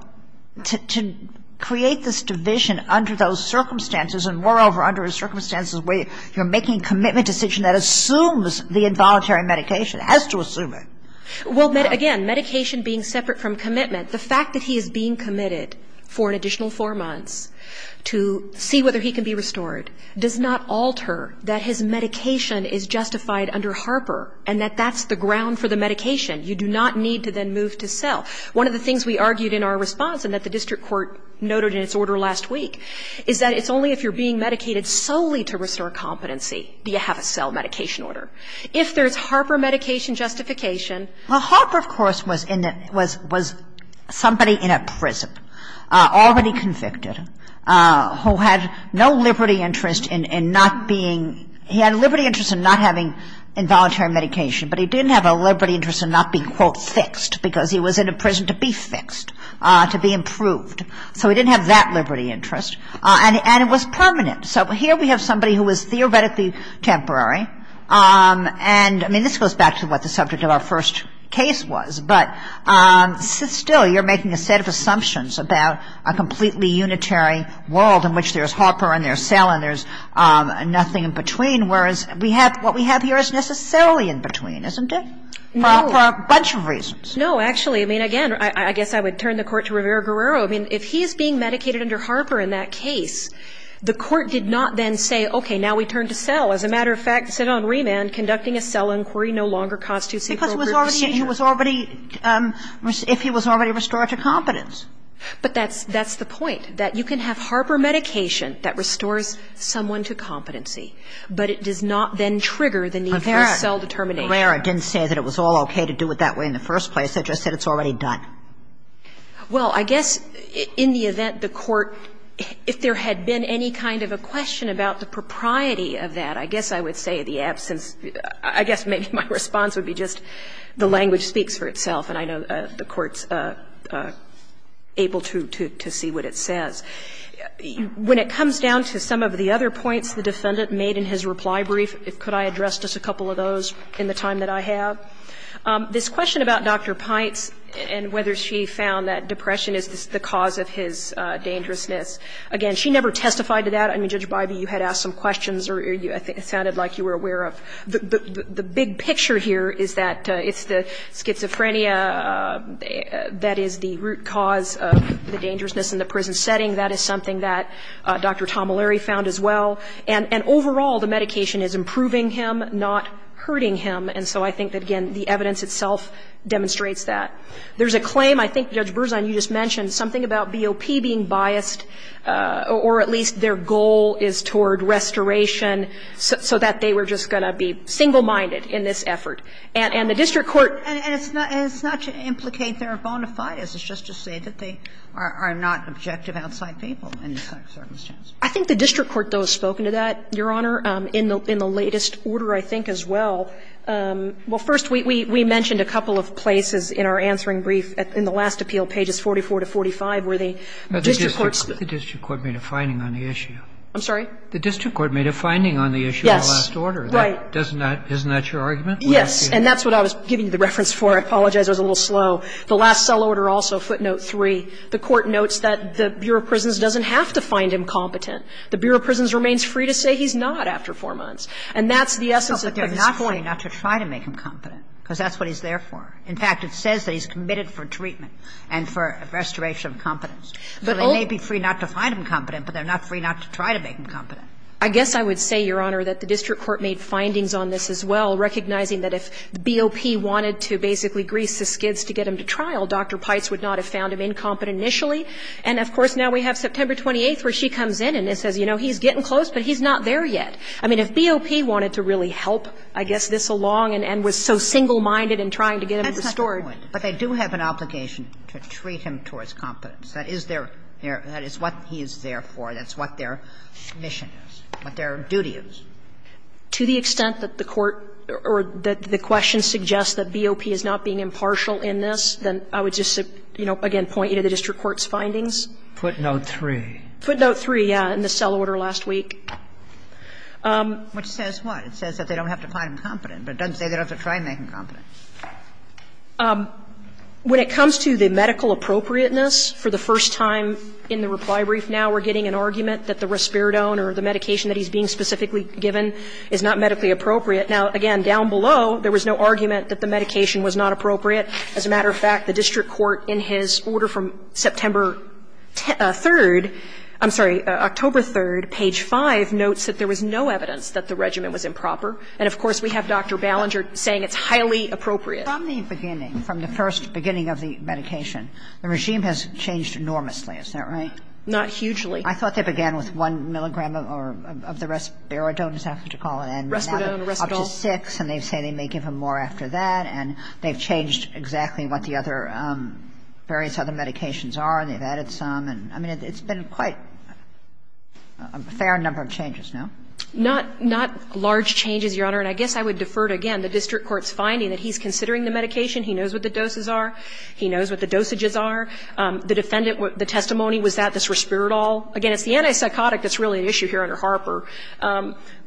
to create this division under those circumstances and moreover under a circumstance where you're making a commitment decision that assumes the involuntary medication, has to assume it. Well, again, medication being separate from commitment, the fact that he is being committed for an additional four months to see whether he can be restored does not alter that his medication is justified under Harper and that that's the ground for the medication. You do not need to then move to Sell. One of the things we argued in our response and that the district court noted in its order last week is that it's only if you're being medicated solely to restore competency do you have a Sell medication order. If there's Harper medication justification... Well, Harper, of course, was somebody in a prison, already convicted, who had no liberty interest in not being... He had a liberty interest in not having involuntary medication, but he didn't have a liberty interest in not being, quote, fixed because he was in a prison to be fixed, to be improved. So he didn't have that liberty interest and it was permanent. So here we have somebody who is theoretically temporary. And, I mean, this goes back to what the subject of our first case was, but still you're making a set of assumptions about a completely unitary world in which there's Harper and there's Sell and there's nothing in between, whereas what we have here is necessarily in between, isn't it? For a bunch of reasons. No, actually, I mean, again, I guess I would turn the court to Rivera-Guerrero. I mean, if he is being medicated under Harper in that case, the court did not then say, okay, now we turn to Sell. As a matter of fact, sit on remand, conducting a Sell inquiry no longer costs you... Because he was already... If he was already restored to competence. But that's the point, that you can have Harper medication that restores someone to competency, but it does not then trigger the need for a Sell determination. Rivera-Guerrero didn't say that it was all okay to do it that way in the first place. It just said it's already done. Well, I guess in the event the court... If there had been any kind of a question about the propriety of that, I guess I would say the absence... I guess maybe my response would be just the language speaks for itself, and I know the court's able to see what it says. When it comes down to some of the other points the defendant made in his reply brief, could I address just a couple of those in the time that I have? This question about Dr. Pintz and whether she found that depression is the cause of his dangerousness, again, she never testified to that. I mean, Judge Biden, you had asked some questions or it sounded like you were aware of... The big picture here is that it's the schizophrenia that is the root cause of the dangerousness in the prison setting. That is something that Dr. Tom O'Leary found as well. And overall, the medication is improving him, not hurting him. And so I think, again, the evidence itself demonstrates that. There's a claim, I think, Judge Berzon, you just mentioned, something about BOP being biased, or at least their goal is toward restoration, so that they were just going to be single-minded in this effort. And the district court... And it's not to implicate their bona fides. It's just to say that they are not objective outside people in this circumstance. I think the district court, though, has spoken to that, Your Honour, in the latest order, I think, as well. Well, first, we mentioned a couple of places in our answering brief. In the last appeal, pages 44 to 45, where the district court... The district court made a finding on the issue. I'm sorry? The district court made a finding on the issue in the last order. Yes, right. Isn't that your argument? Yes, and that's what I was giving the reference for. I apologize, it was a little slow. The last cell order also, footnote 3, the court notes that the Bureau of Prisons doesn't have to find him competent. The Bureau of Prisons remains free to say he's not after four months. And that's the essence of... But they're not willing not to try to make him competent, because that's what he's there for. In fact, it says that he's committed for treatment and for restoration of competence. So they may be free not to find him competent, but they're not free not to try to make him competent. I guess I would say, Your Honour, that the district court made findings on this, as well, recognizing that if BOP wanted to basically grease his skids to get him to trial, Dr. Pites would not have found him incompetent initially. And, of course, now we have September 28th, where she comes in and says, you know, he's getting close, but he's not there yet. I mean, if BOP wanted to really help, I guess, this along and was so single-minded in trying to get him restored... That's not the point. But they do have an obligation to treat him towards competence. That is what he's there for. That's what their mission is, what their duty is. To the extent that the question suggests that BOP is not being impartial in this, then I would just, you know, again, point you to the district court's findings. Put note three. Put note three, yeah, in the cell order last week. Which says what? It says that they don't have to find him competent, but it doesn't say they don't have to try to make him competent. When it comes to the medical appropriateness, for the first time in the reply brief now, we're getting an argument that the risperidone or the medication that he's being specifically given is not medically appropriate. Now, again, down below, there was no argument that the medication was not appropriate. As a matter of fact, the district court in his order from September 3rd, I'm sorry, October 3rd, page five, notes that there was no evidence that the regimen was improper. And, of course, we have Dr. Ballinger saying it's highly appropriate. From the beginning, from the first beginning of the medication, the regime has changed enormously. Isn't that right? Not hugely. I thought they began with one milligram of the risperidone, is that what you call it? Risperidone. Up to six. And they say they may give him more after that. And they've changed exactly what the other various other medications are, and they've added some. I mean, it's been quite a fair number of changes, no? Not large changes, Your Honor. And I guess I would defer to, again, the district court's finding that he's considering the medication. He knows what the doses are. He knows what the dosages are. The defendant, the testimony was that the risperidone, again, it's the antipsychotic that's really an issue here under Harper,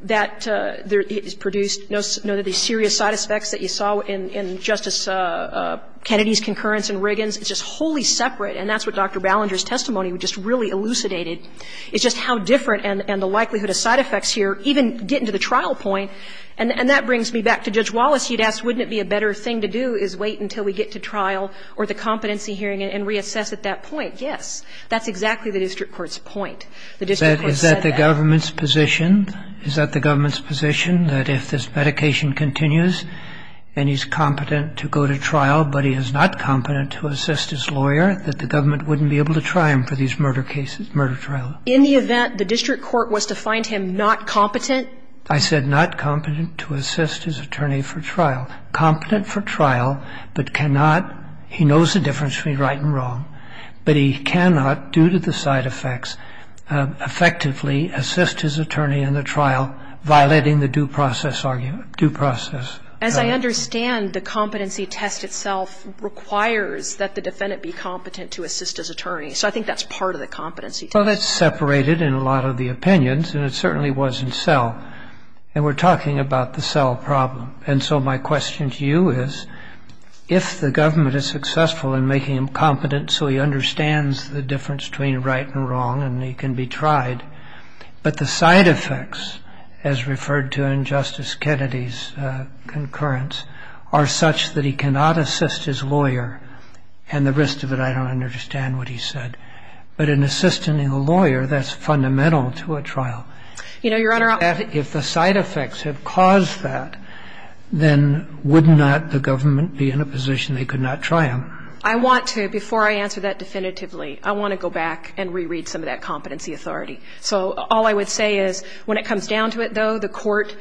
that it's produced, you know, the serious side effects that you saw in Justice Kennedy's concurrence in Riggins, it's just wholly separate, and that's what Dr. Ballinger's testimony just really elucidated. It's just how different, and the likelihood of side effects here, even getting to the trial point. And that brings me back to Judge Wallace. He'd ask, wouldn't it be a better thing to do is wait until we get to trial or the competency hearing and reassess at that point? Yes. That's exactly the district court's point. Is that the government's position? Is that the government's position that if this medication continues and he's competent to go to trial, but he is not competent to assist his lawyer, that the government wouldn't be able to try him for these murder cases, murder trials? In the event the district court was to find him not competent. I said not competent to assist his attorney for trial. Competent for trial, but cannot, he knows the difference between right and wrong, but he cannot, due to the side effects, effectively assist his attorney in the trial, violating the due process argument, due process. And I understand the competency test itself requires that the defendant be competent to assist his attorney. So I think that's part of the competency test. Well, that's separated in a lot of the opinions, and it certainly was in SEL. And we're talking about the SEL problem. And so my question to you is, if the government is successful in making him competent so he understands the difference between right and wrong and he can be tried, but the side effects, as referred to in Justice Kennedy's concurrence, are such that he cannot assist his lawyer, and the rest of it I don't understand what he said. But in assisting a lawyer, that's fundamental to a trial. If the side effects have caused that, then would not the government be in a position they could not try him? I want to, before I answer that definitively, I want to go back and reread some of that competency authority. So all I would say is, when it comes down to it, though, the court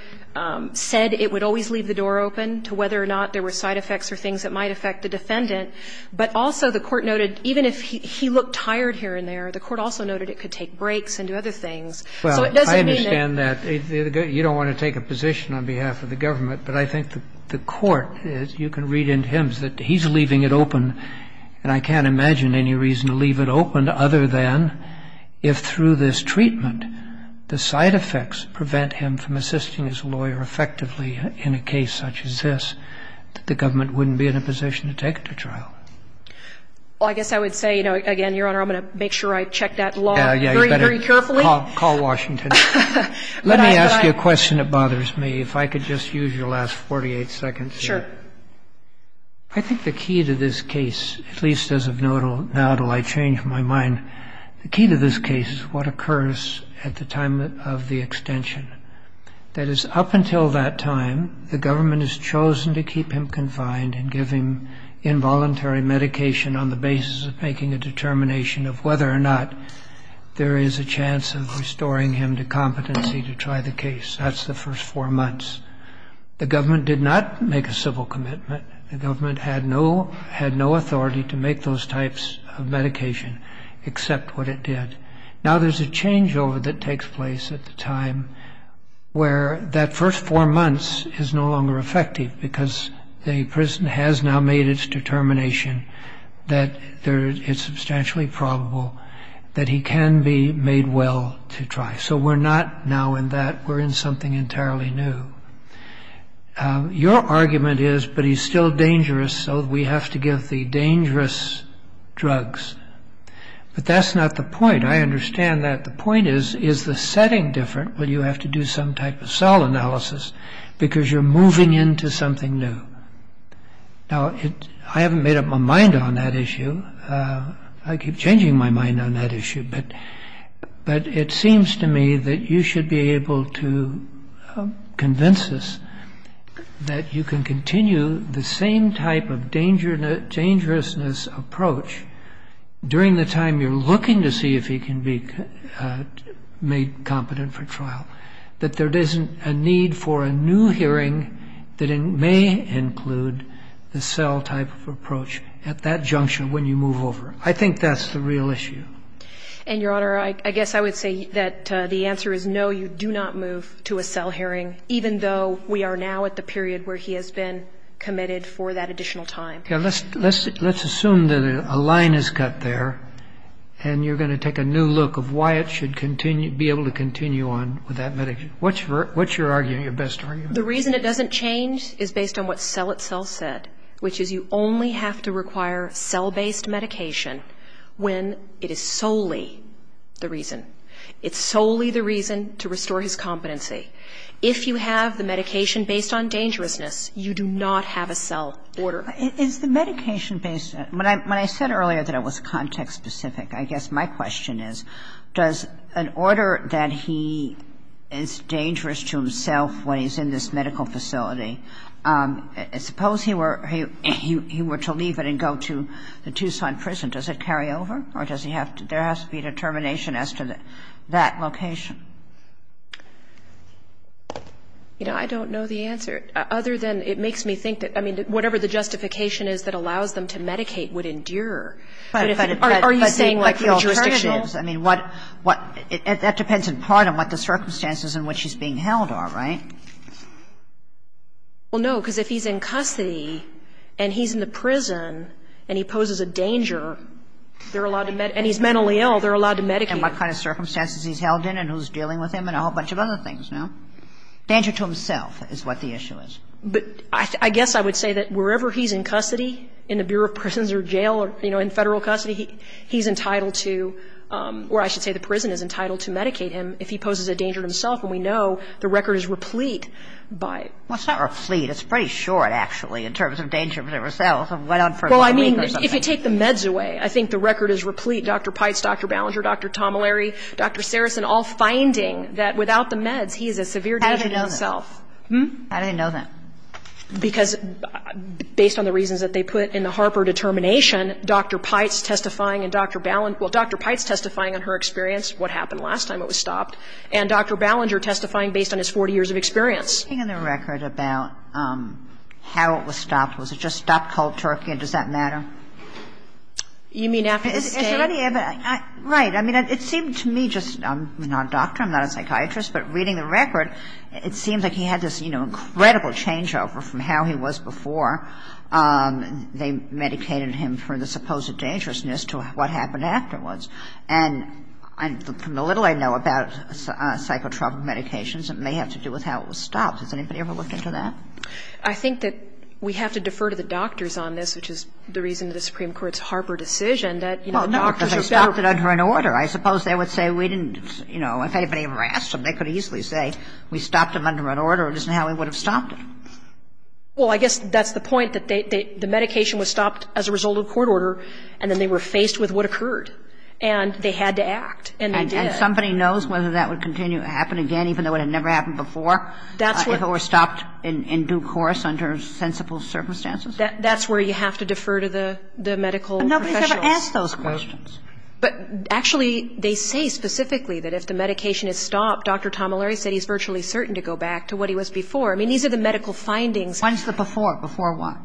said it would always leave the door open to whether or not there were side effects or things that might affect the defendant. But also the court noted, even if he looked tired here and there, the court also noted it could take breaks and do other things. Well, I understand that. You don't want to take a position on behalf of the government, but I think the court, you can read into him, says that he's leaving it open, and I can't imagine any reason to leave it open other than if through this treatment, the side effects prevent him from assisting his lawyer effectively in a case such as this, that the government wouldn't be in a position to take it to trial. Well, I guess I would say, again, Your Honor, I'm going to make sure I check that law very carefully. Call Washington. Let me ask you a question that bothers me. If I could just use your last 48 seconds here. Sure. I think the key to this case, at least as of now though I change my mind, the key to this case is what occurs at the time of the extension. That is, up until that time, the government has chosen to keep him confined and give him involuntary medication on the basis of making a determination of whether or not there is a chance of restoring him to competency to try the case. That's the first four months. The government did not make a civil commitment. The government had no authority to make those types of medication except what it did. Now there's a changeover that takes place at the time where that first four months is no longer effective because the prison has now made its determination that it's substantially probable that he can be made well to try. So we're not now in that. We're in something entirely new. Your argument is, but he's still dangerous, so we have to give the dangerous drugs. But that's not the point. I understand that. The point is, is the setting different when you have to do some type of cell analysis because you're moving into something new? Now I haven't made up my mind on that issue. I keep changing my mind on that issue. But it seems to me that you should be able to convince us that you can continue the same type of dangerousness approach during the time you're looking to see if he can be made competent for trial, that there isn't a need for a new hearing that may include the cell type of approach at that junction when you move over. I think that's the real issue. And, Your Honor, I guess I would say that the answer is no, you do not move to a cell hearing, even though we are now at the period where he has been committed for that additional time. Let's assume that a line is cut there and you're going to take a new look of why it should be able to continue on with that medication. What's your argument? The reason it doesn't change is based on what Cell itself said, which is you only have to require cell-based medication when it is solely the reason. It's solely the reason to restore his competency. If you have the medication based on dangerousness, you do not have a cell order. Is the medication-based... When I said earlier that it was context-specific, I guess my question is, does an order that he is dangerous to himself when he's in this medical facility... If he were to leave it and go to the Tucson prison, does it carry over, or does he have to... There has to be a determination as to that location. I don't know the answer, other than it makes me think that... I mean, whatever the justification is that allows them to medicate would endure. But if it's... I mean, what... That depends in part on what the circumstances in which he's being held are, right? Well, no, because if he's in custody and he's in the prison and he poses a danger, they're allowed to... And he's mentally ill, they're allowed to medicate him. And what kind of circumstances he's held in and who's dealing with him and a whole bunch of other things, no? Danger to himself is what the issue is. But I guess I would say that wherever he's in custody, in the Bureau of Prisons or Jail or, you know, in federal custody, he's entitled to... Or I should say the prison is entitled to medicate him if he poses a danger to himself, and we know the record is replete by... Well, it's not replete. It's pretty short, actually, in terms of danger to himself. Well, I mean, if you take the meds away, I think the record is replete. Dr. Pites, Dr. Ballinger, Dr. Tomillary, Dr. Saracen, all finding that without the meds, he is a severe danger to himself. I didn't know that. Hmm? I didn't know that. Because based on the reasons that they put in the Harper determination, Dr. Pites testifying and Dr. Ballinger... Well, Dr. Pites testifying in her experience, what happened last time it was stopped, and Dr. Ballinger testifying based on his 40 years of experience. The thing in the record about how it was stopped, was it just stopped, called Turkey, and does that matter? You mean after... Right, I mean, it seems to me just... I'm not a doctor, I'm not a psychiatrist, but reading the record, it seems like he had this, you know, incredible changeover from how he was before. They meditated him from the supposed dangerousness to what happened afterwards. And from the little I know about psychotropic medications, it may have to do with how it was stopped. Has anybody ever looked into that? I think that we have to defer to the doctors on this, which is the reason that the Supreme Court's Harper decision that... Well, doctors have stopped it under an order. I suppose they would say we didn't... You know, if anybody ever asked them, they could easily say, we stopped them under an order, this is how we would have stopped it. Well, I guess that's the point, that the medication was stopped as a result of court order, and then they were faced with what occurred. And they had to act, and they did. And somebody knows whether that would continue to happen again, even though it had never happened before, if it were stopped in due course under sensible circumstances? That's where you have to defer to the medical professionals. But nobody's ever asked those questions. But, actually, they say specifically that if the medication is stopped, Dr Tomilleri said he's virtually certain to go back to what he was before. I mean, these are the medical findings. When's the before? Before what?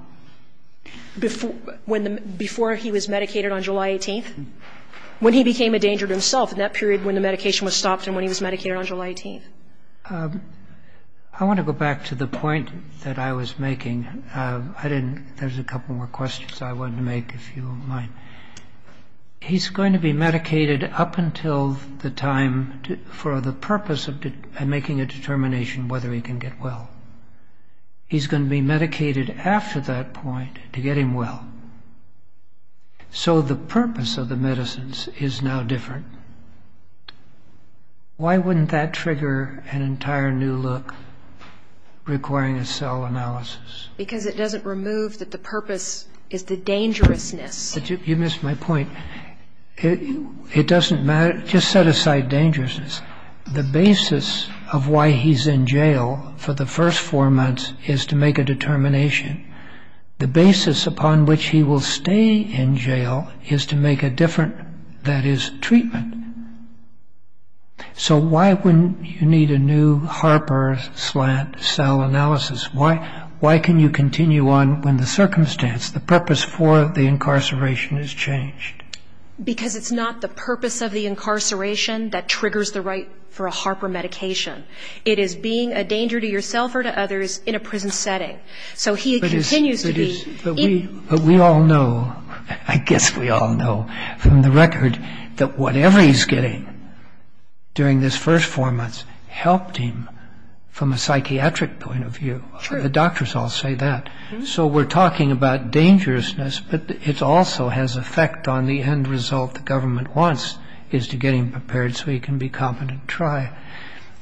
Before he was medicated on July 18th? When he became a danger to himself, in that period when the medication was stopped and when he was medicated on July 18th. I want to go back to the point that I was making. There's a couple more questions I wanted to make, if you don't mind. He's going to be medicated up until the time, for the purpose of making a determination whether he can get well. He's going to be medicated after that point to get him well. So the purpose of the medicines is now different. Why wouldn't that trigger an entire new look requiring a cell analysis? Because it doesn't remove that the purpose is the dangerousness. You missed my point. It doesn't matter. Just set aside dangerousness. The basis of why he's in jail for the first four months is to make a determination. The basis upon which he will stay in jail is to make a different, that is, treatment. So why wouldn't you need a new Harper cell analysis? Why can you continue on when the circumstance, the purpose for the incarceration has changed? Because it's not the purpose of the incarceration that triggers the right for a Harper medication. It is being a danger to yourself or to others in a prison setting. So he continues to be... But we all know, I guess we all know from the record, that whatever he's getting during this first four months helped him from a psychiatric point of view. The doctors all say that. So we're talking about dangerousness, but it also has effect on the end result the government wants, is to get him prepared so he can be confident to try.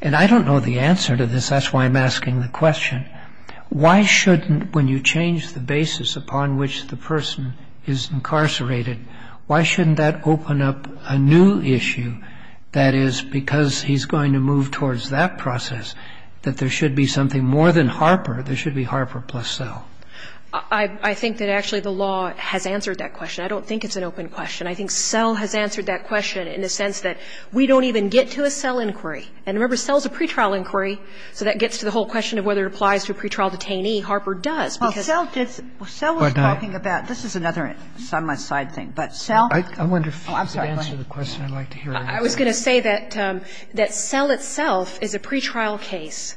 And I don't know the answer to this. That's why I'm asking the question. Why shouldn't, when you change the basis upon which the person is incarcerated, why shouldn't that open up a new issue, that is, because he's going to move towards that process, that there should be something more than Harper. There should be Harper plus cell. I think that actually the law has answered that question. I don't think it's an open question. I think cell has answered that question in the sense that we don't even get to a cell inquiry. And remember, cell's a pretrial inquiry, so that gets to the whole question of whether it applies to a pretrial detainee. Harper does. Cell does. Cell was talking about... This is another side-by-side thing. But cell... I wonder if you could answer the question I'd like to hear. I was going to say that cell itself is a pretrial case.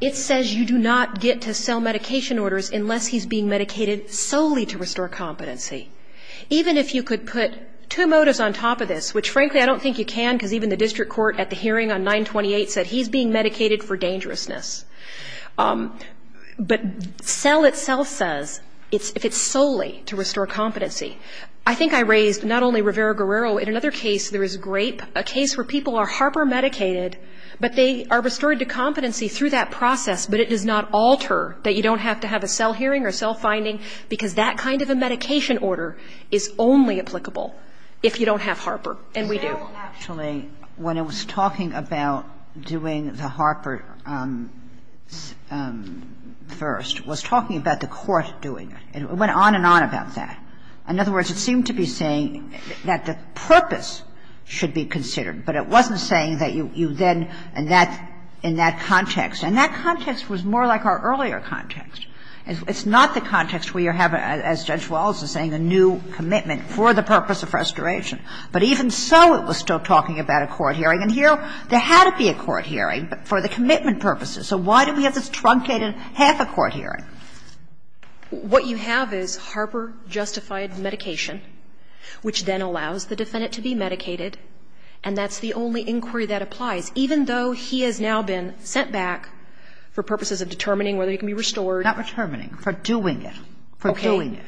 It says you do not get to cell medication orders unless he's being medicated solely to restore competency. Even if you could put two motives on top of this, which frankly I don't think you can, because even the district court at the hearing on 9-28 said he's being medicated for dangerousness. But cell itself says it's solely to restore competency. I think I raised not only Rivera-Guerrero, in another case there was Grape, a case where people are Harper medicated, but they are restored to competency through that process, but it does not alter that you don't have to have a cell hearing or cell finding because that kind of a medication order is only applicable if you don't have Harper. And we do. Actually, when it was talking about doing the Harper first, it was talking about the court doing it. It went on and on about that. In other words, it seemed to be saying that the purpose should be considered, but it wasn't saying that you then... in that context. And that context was more like our earlier context. It's not the context where you have, as Judge Wallace was saying, a new commitment for the purpose of restoration. But even so, it was still talking about a court hearing, and here there had to be a court hearing for the commitment purposes. So why do we have this truncated half a court hearing? What you have is Harper justified medication, which then allows the defendant to be medicated, and that's the only inquiry that applies, even though he has now been sent back for purposes of determining whether he can be restored. Not determining, for doing it. For doing it.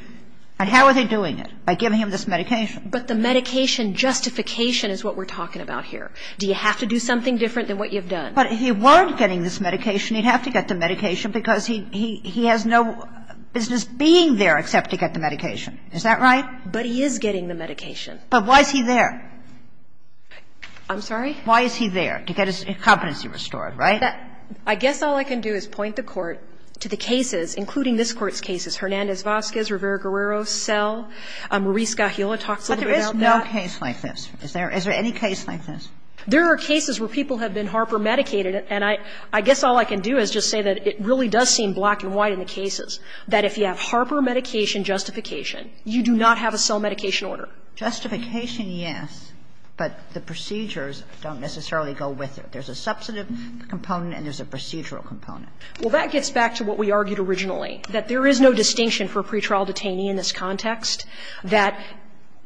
And how are they doing it? By giving him this medication. But the medication justification is what we're talking about here. Do you have to do something different than what you've done? But if he was getting this medication, he'd have to get the medication because he has no business being there except to get the medication. Is that right? But he is getting the medication. But why is he there? I'm sorry? Why is he there? To get his competency restored, right? I guess all I can do is point the court to the cases, including this court's cases, Hernandez-Vazquez, Rivera-Guerrero cell, Maurice Gajula talks a little bit about that. But there is no case like this. Is there any case like this? There are cases where people have been Harper medicated, and I guess all I can do is just say that it really does seem black and white in the cases that if you have Harper medication justification, you do not have a cell medication order. Justification, yes, but the procedures don't necessarily go with it. There's a substantive component and there's a procedural component. Well, that gets back to what we argued originally, that there is no distinction for pretrial detainee in this context, that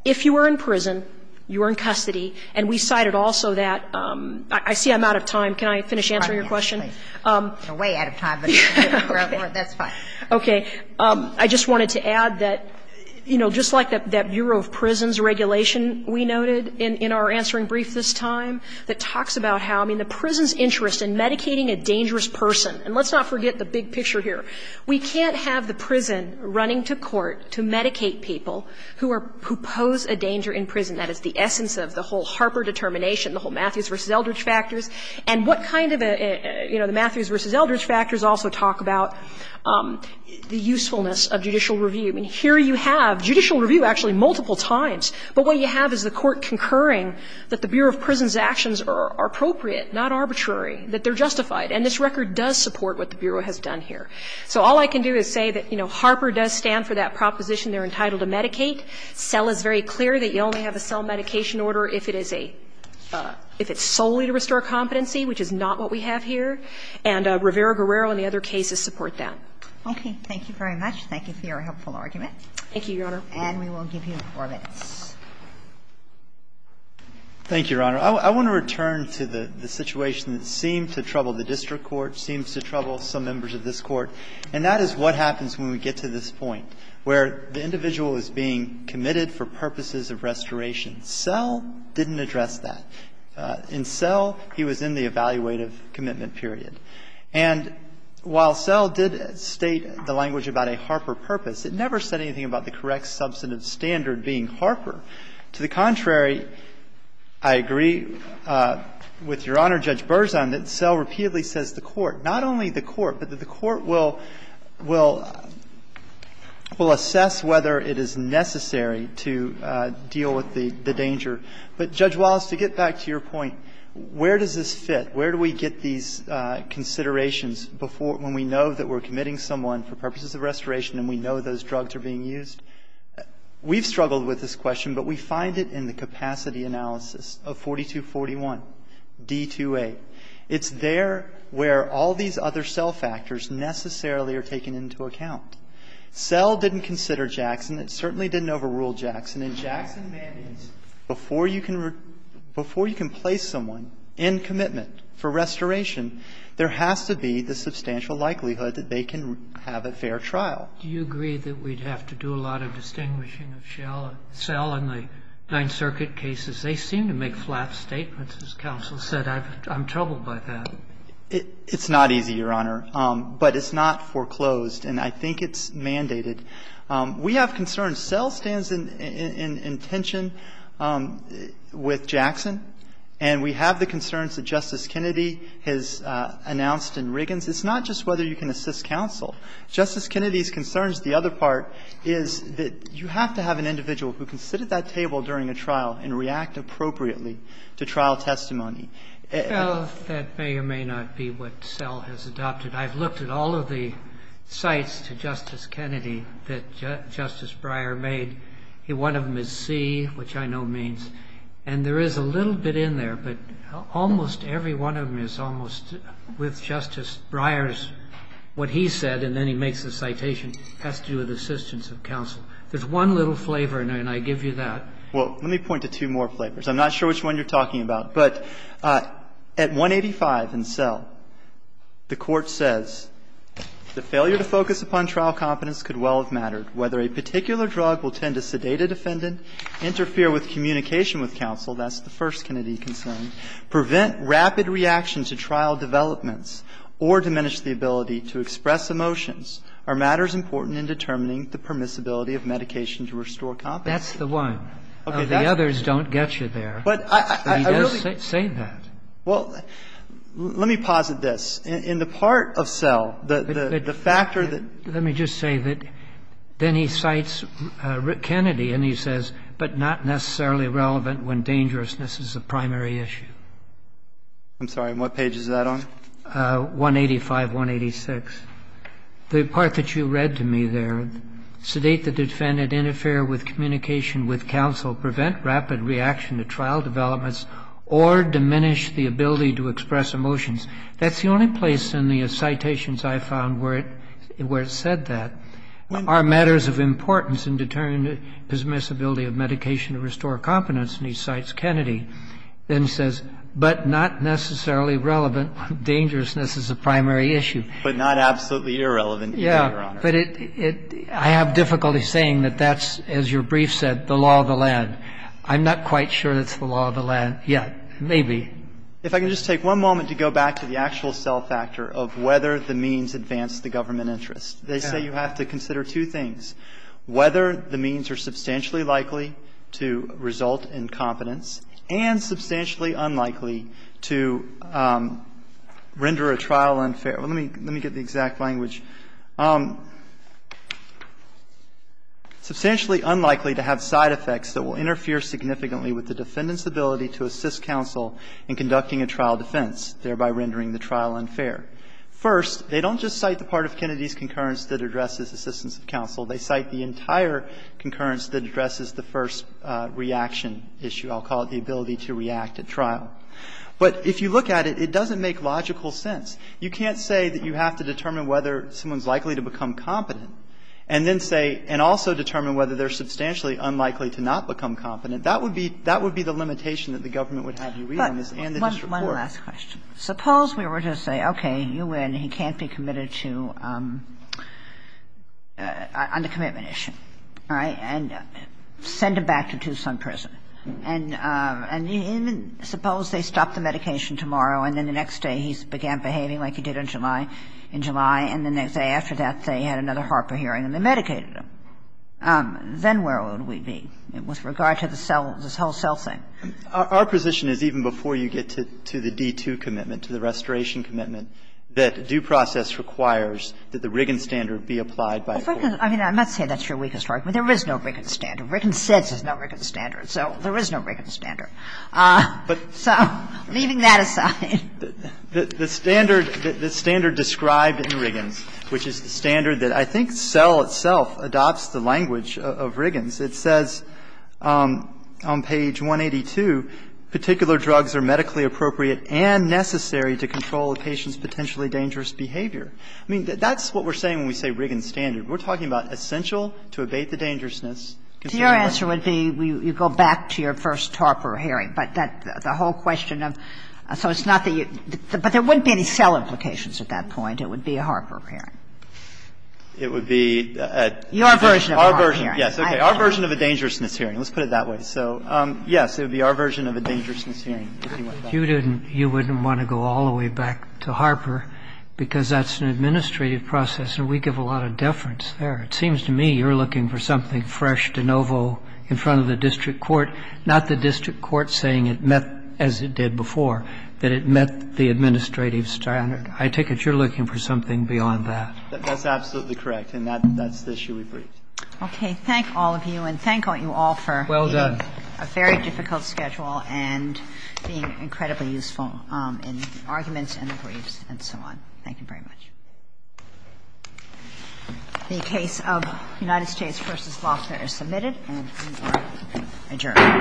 if you were in prison, you were in custody, and we cited also that... I see I'm out of time. Can I finish answering your question? You're way out of time. That's fine. Okay. I just wanted to add that, you know, just like that Bureau of Prisons regulation we noted in our answering brief this time that talks about how, I mean, the prison's interest in medicating a dangerous person, and let's not forget the big picture here. We can't have the prison running to court to medicate people who pose a danger in prison. That is the essence of the whole Harper determination, the whole Matthews versus Eldridge factors, and what kind of, you know, the Matthews versus Eldridge factors also talk about the usefulness of judicial review. I mean, here you have judicial review actually multiple times, but what you have is the court concurring that the Bureau of Prisons actions are appropriate, not arbitrary, that they're justified, and this record does support what the Bureau has done here. So all I can do is say that, you know, Harper does stand for that proposition they're entitled to medicate. CEL is very clear that you only have a CEL medication order if it is a... if it's solely to restore competency, which is not what we have here, and Rivera-Barrero and the other cases support that. Okay. Thank you very much. Thank you for your helpful argument. Thank you, Your Honor. And we will give you four minutes. Thank you, Your Honor. I want to return to the situation that seemed to trouble the district court, seems to trouble some members of this court, and that is what happens when we get to this point, where the individual is being committed for purposes of restoration. CEL didn't address that. In CEL, he was in the evaluative commitment period. And while CEL did state the language about a Harper purpose, it never said anything about the correct substantive standard being Harper. To the contrary, I agree with Your Honor, Judge Berzon, that CEL repeatedly says to the court, not only the court, but that the court will assess whether it is necessary to deal with the danger. But, Judge Wallace, to get back to your point, where does this fit? Where do we get these considerations when we know that we're committing someone for purposes of restoration and we know those drugs are being used? We've struggled with this question, but we find it in the capacity analysis of 4241 D-2A. It's there where all these other CEL factors necessarily are taken into account. CEL didn't consider Jackson. It certainly didn't overrule Jackson. In Jackson Vandience, before you can place someone in commitment for restoration, there has to be the substantial likelihood that they can have a fair trial. Do you agree that we'd have to do a lot of distinguishing of CEL and the Ninth Circuit cases? They seem to make flat statements, as counsel said. I'm troubled by that. It's not easy, Your Honor, but it's not foreclosed, and I think it's mandated. We have concerns. CEL stands in tension with Jackson, and we have the concerns that Justice Kennedy has announced in Riggins. It's not just whether you can assist counsel. Justice Kennedy's concerns, the other part, is that you have to have an individual who can sit at that table during a trial and react appropriately to trial testimony. CEL, that may or may not be what CEL has adopted. I've looked at all of the sites to Justice Kennedy that Justice Breyer made. One of them is C, which I know means, and there is a little bit in there, but almost every one of them is almost with Justice Breyer's, what he said, and then he makes a citation, has to do with assistance of counsel. There's one little flavor in there, and I give you that. Well, let me point to two more flavors. I'm not sure which one you're talking about, but at 185 in CEL, the court says, the failure to focus upon trial competence could well have mattered. Whether a particular drug will tend to sedate a defendant, interfere with communication with counsel, that's the first Kennedy concern, prevent rapid reactions to trial developments, or diminish the ability to express emotions, are matters important in determining the permissibility of medication to restore competence. That's the one. Okay, the others don't get you there. But I really... Say that. Well, let me posit this. In the part of CEL, the factor that... Let me just say that then he cites Kennedy, and he says, but not necessarily relevant when dangerousness is the primary issue. I'm sorry, and what page is that on? 185, 186. The part that you read to me there, sedate the defendant, interfere with communication with counsel, prevent rapid reaction to trial developments, or diminish the ability to express emotions. That's the only place in the citations I found where it said that. Are matters of importance in determining the permissibility of medication to restore competence, and he cites Kennedy. And he says, but not necessarily relevant when dangerousness is the primary issue. But not absolutely irrelevant. Yeah, but I have difficulty saying that that's, as your brief said, the law of the land. I'm not quite sure it's the law of the land. Yeah, maybe. If I could just take one moment to go back to the actual CEL factor of whether the means advance the government interest. They say you have to consider two things. Whether the means are substantially likely to result in competence, and substantially unlikely to render a trial unfair. Let me get the exact language. Substantially unlikely to have side effects that will interfere significantly with the defendant's ability to assist counsel in conducting a trial defense, thereby rendering the trial unfair. First, they don't just cite the part of Kennedy's concurrence that addresses assistance of counsel. They cite the entire concurrence that addresses the first reaction issue. I'll call it the ability to react at trial. But if you look at it, it doesn't make logical sense. You can't say that you have to determine whether someone's likely to become competent, and then say, and also determine whether they're substantially unlikely to not become competent. That would be the limitation that the government would have to read on this. One last question. Suppose we were to say, okay, you win. He can't be committed to, on the commitment issue. All right? And send him back to Tucson prison. And suppose they stop the medication tomorrow, and then the next day he began behaving like he did in July, and the next day after that they had another Harper hearing and they medicated him. Then where would we be with regard to this whole cell thing? Our position is even before you get to the D2 commitment, to the restoration commitment, that due process requires that the Riggins standard be applied by a court. I mean, I'm not saying that's your weakest argument. There is no Riggins standard. Riggins says there's no Riggins standard, so there is no Riggins standard. So, leaving that aside. The standard described in Riggins, which is the standard that I think CEL itself adopts the language of Riggins, it says on page 182, particular drugs are medically appropriate and necessary to control a patient's potentially dangerous behavior. I mean, that's what we're saying when we say Riggins standard. We're talking about essential to evade the dangerousness. Your answer would be, you go back to your first Harper hearing, but the whole question of, so it's not that you, but there wouldn't be any CEL implications at that point. It would be a Harper hearing. It would be a... Your version of a Harper hearing. Our version, yes. Our version of a dangerousness hearing. Let's put it that way. So, yes, it would be our version of a dangerousness hearing. If you didn't, you wouldn't want to go all the way back to Harper because that's an administrative process and we give a lot of deference there. It seems to me you're looking for something fresh, de novo, in front of the district court. Not the district court saying it met as it did before, but it met the administrative standard. I take it you're looking for something beyond that. That's absolutely correct, and that's the issue we bring. Okay, thank all of you, and thank you all for... Well done. ...a very difficult schedule and being incredibly useful in the arguments and the briefs and so on. Thank you very much. The case of United States v. Gloucester is submitted and we are adjourned.